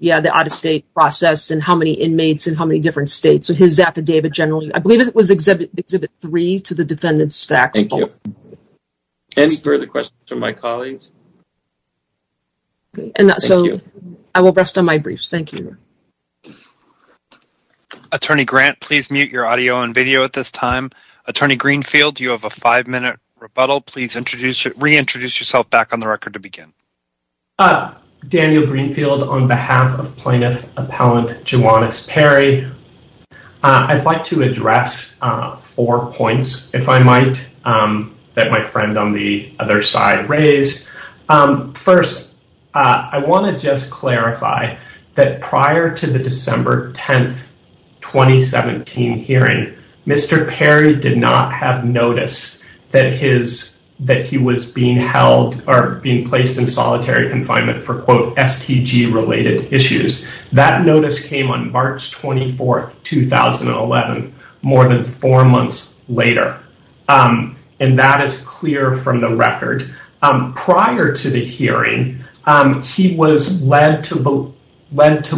Yeah, the out-of-state process and how many inmates in how many different states. His affidavit generally, I believe it was Exhibit 3 to the defendant's staff. Thank you. Any further questions from my colleagues? No. Thank you. I will rest on my briefs. Thank you. Attorney Grant, please mute your audio and video at this time. Attorney Greenfield, you have a five-minute rebuttal. Please reintroduce yourself back on the record to begin. Daniel Greenfield on behalf of Plaintiff Appellant Joannis Perry. I'd like to address four points, if I might, that my friend on the other side raised. First, I want to just clarify that prior to the December 10, 2017 hearing, Mr. Perry did not have notice that he was being held or being placed in solitary confinement for, quote, FPG-related issues. That notice came on March 24, 2011, more than four months later. And that is clear from the record. Prior to the hearing, he was led to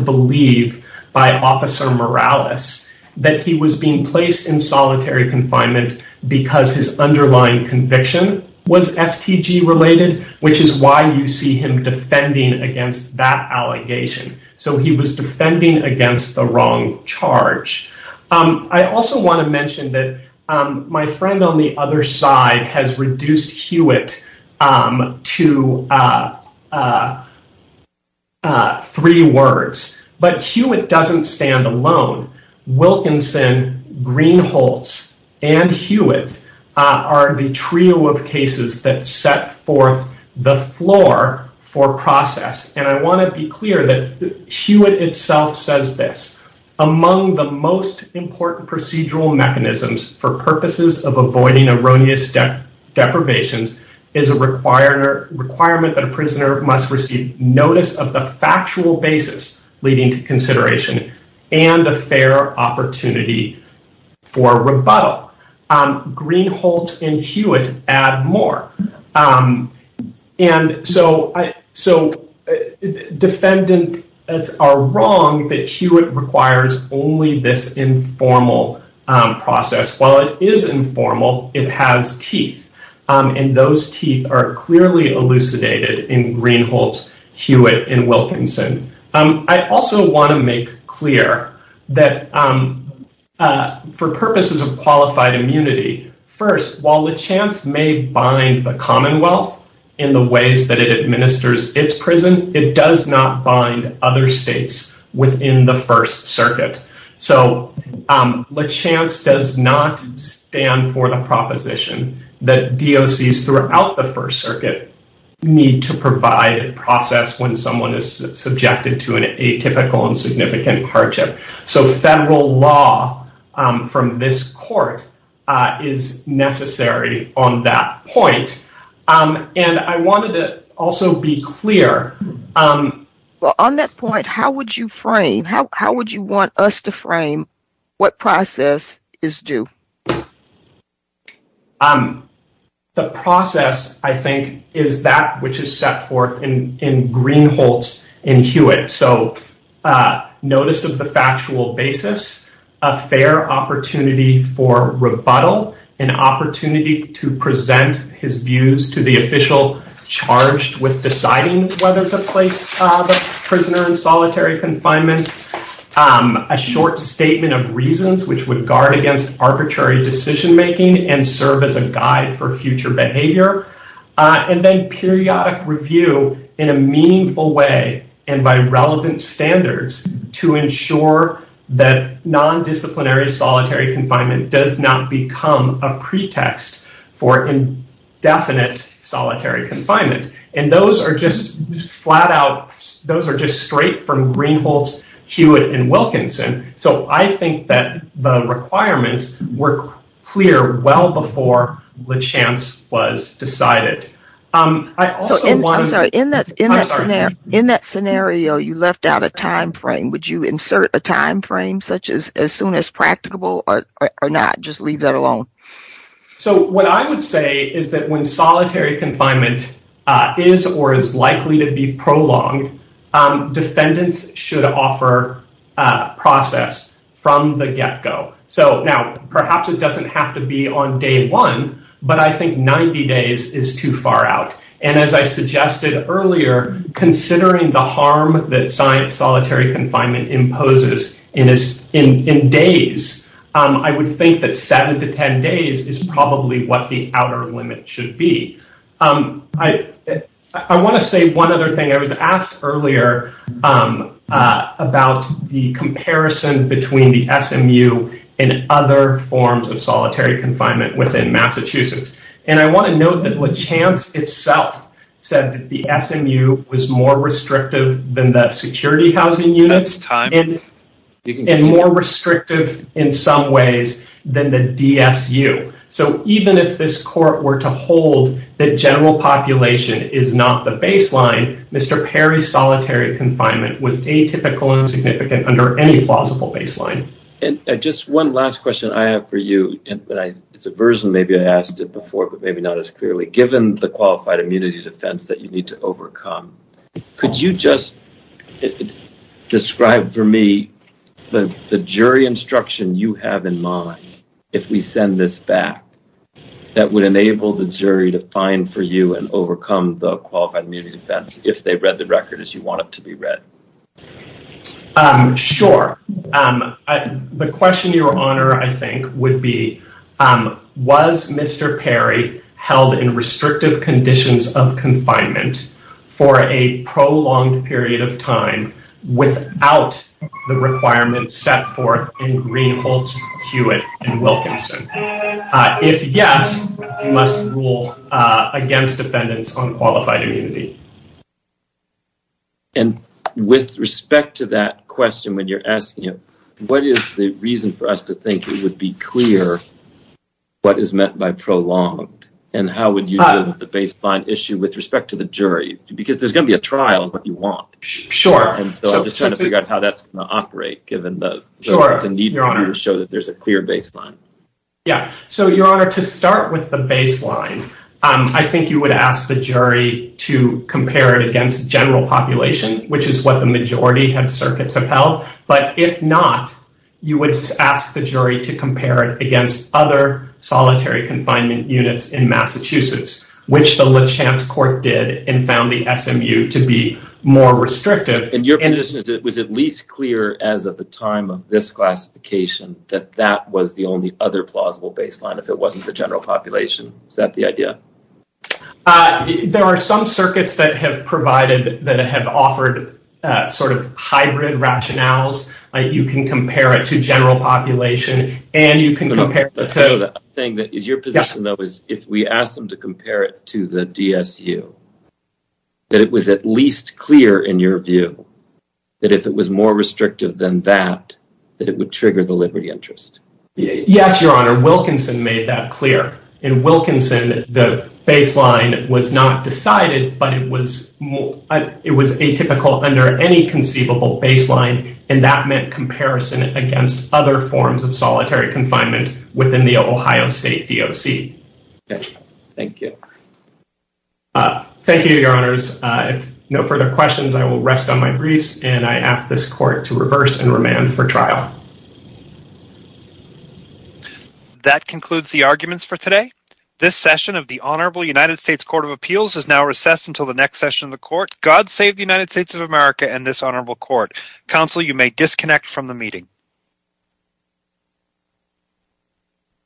believe by Officer Morales that he was being placed in solitary confinement because his underlying conviction was FPG-related, which is why you see him defending against that allegation. So he was defending against the wrong charge. I also want to mention that my friend on the other side has reduced Hewitt to three words. But Hewitt doesn't stand alone. Wilkinson, Greenholz, and Hewitt are the trio of cases that set forth the floor for process. And I want to be clear that Hewitt itself says this. Among the most important procedural mechanisms for purposes of avoiding erroneous deprivation is a requirement that a prisoner must receive notice of the factual basis leading to consideration and a fair opportunity for rebuttal. Greenholz and Hewitt add more. And so defendants are wrong that Hewitt requires only this informal process. While it is informal, it has teeth. And those teeth are clearly elucidated in Greenholz, Hewitt, and Wilkinson. I also want to make clear that for purposes of qualified immunity, first, while Lachance may bind the Commonwealth in the ways that it administers its prison, it does not bind other states within the First Circuit. So Lachance does not stand for the proposition that DOCs throughout the First Circuit need to provide a process when someone is subjected to an atypical and significant hardship. So federal law from this court is necessary on that point. And I wanted to also be clear... Well, on that point, how would you frame, how would you want us to frame what process is due? The process, I think, is that which is set forth in Greenholz and Hewitt. So notice of the factual basis, a fair opportunity for rebuttal, an opportunity to present his views to the official charged with deciding whether to place the prisoner in solitary confinement, a short statement of reasons which would guard against arbitrary decision-making and serve as a guide for future behavior, and then periodic review in a meaningful way and by relevant standards to ensure that non-disciplinary solitary confinement does not become a pretext for indefinite solitary confinement. And those are just flat out, those are just straight from Greenholz, Hewitt, and Wilkinson. So I think that the requirements were clear well before the chance was decided. I'm sorry, in that scenario, you left out a time frame. Would you insert a time frame such as as soon as practicable or not, just leave that alone? So what I would say is that when solitary confinement is or is likely to be prolonged, defendants should offer process from the get-go. So now, perhaps it doesn't have to be on day one, but I think 90 days is too far out. And as I suggested earlier, considering the harm that solitary confinement imposes in days, I would think that 7 to 10 days is probably what the outer limit should be. I want to say one other thing. I was asked earlier about the comparison between the SMU and other forms of solitary confinement within Massachusetts. And I want to note that Lachance itself said that the SMU was more restrictive than the security housing units and more restrictive in some ways than the DSU. So even if this court were to hold that general population is not the baseline, Mr. Perry's solitary confinement was atypical and insignificant under any plausible baseline. And just one last question I have for you. It's a version, maybe I asked it before, but maybe not as clearly. Given the qualified immunities offense that you need to overcome, could you just describe for me the jury instruction you have in mind if we send this back that would enable the jury to find for you and overcome the qualified immunity offense if they read the record as you want it to be read? Sure. The question, Your Honor, I think would be, was Mr. Perry held in restrictive conditions of confinement for a prolonged period of time without the requirements set forth in Greenfield, Hewitt, and Wilkinson? If yes, must rule against defendants on qualified immunity. And with respect to that question, when you're asking it, what is the reason for us to think it would be clear what is meant by prolonged? And how would you do the baseline issue with respect to the jury? Because there's going to be a trial of what you want. Sure. And so I'm just trying to figure out how that's going to operate, given the need to show that there's a clear baseline. Yeah. So, Your Honor, to start with the baseline, I think you would ask the jury to compare it against general population, which is what the majority of circuits have held. But if not, you would ask the jury to compare it against other solitary confinement units in Massachusetts, which the Lipschatz Court did and found the SMU to be more restrictive. Your position is it was at least clear as of the time of this classification that that was the only other plausible baseline, if it wasn't the general population. Is that the idea? There are some circuits that have provided, that have offered sort of hybrid rationales. You can compare it to general population, and you can compare it to... I'm saying that your position, though, is if we ask them to compare it to the DSU, that it was at least clear in your view that if it was more restrictive than that, that it would trigger the liberty interest. Yes, Your Honor. Wilkinson made that clear. In Wilkinson, the baseline was not decided, but it was atypical under any conceivable baseline, and that meant comparison against other forms of solitary confinement within the Ohio State DOC. Okay. Thank you. Thank you, Your Honors. If no further questions, I will rest on my briefs, and I ask this Court to reverse and remand for trial. That concludes the arguments for today. This session of the Honorable United States Court of Appeals is now recessed until the next session of the Court. God save the United States of America and this Honorable Court. Counsel, you may disconnect from the meeting.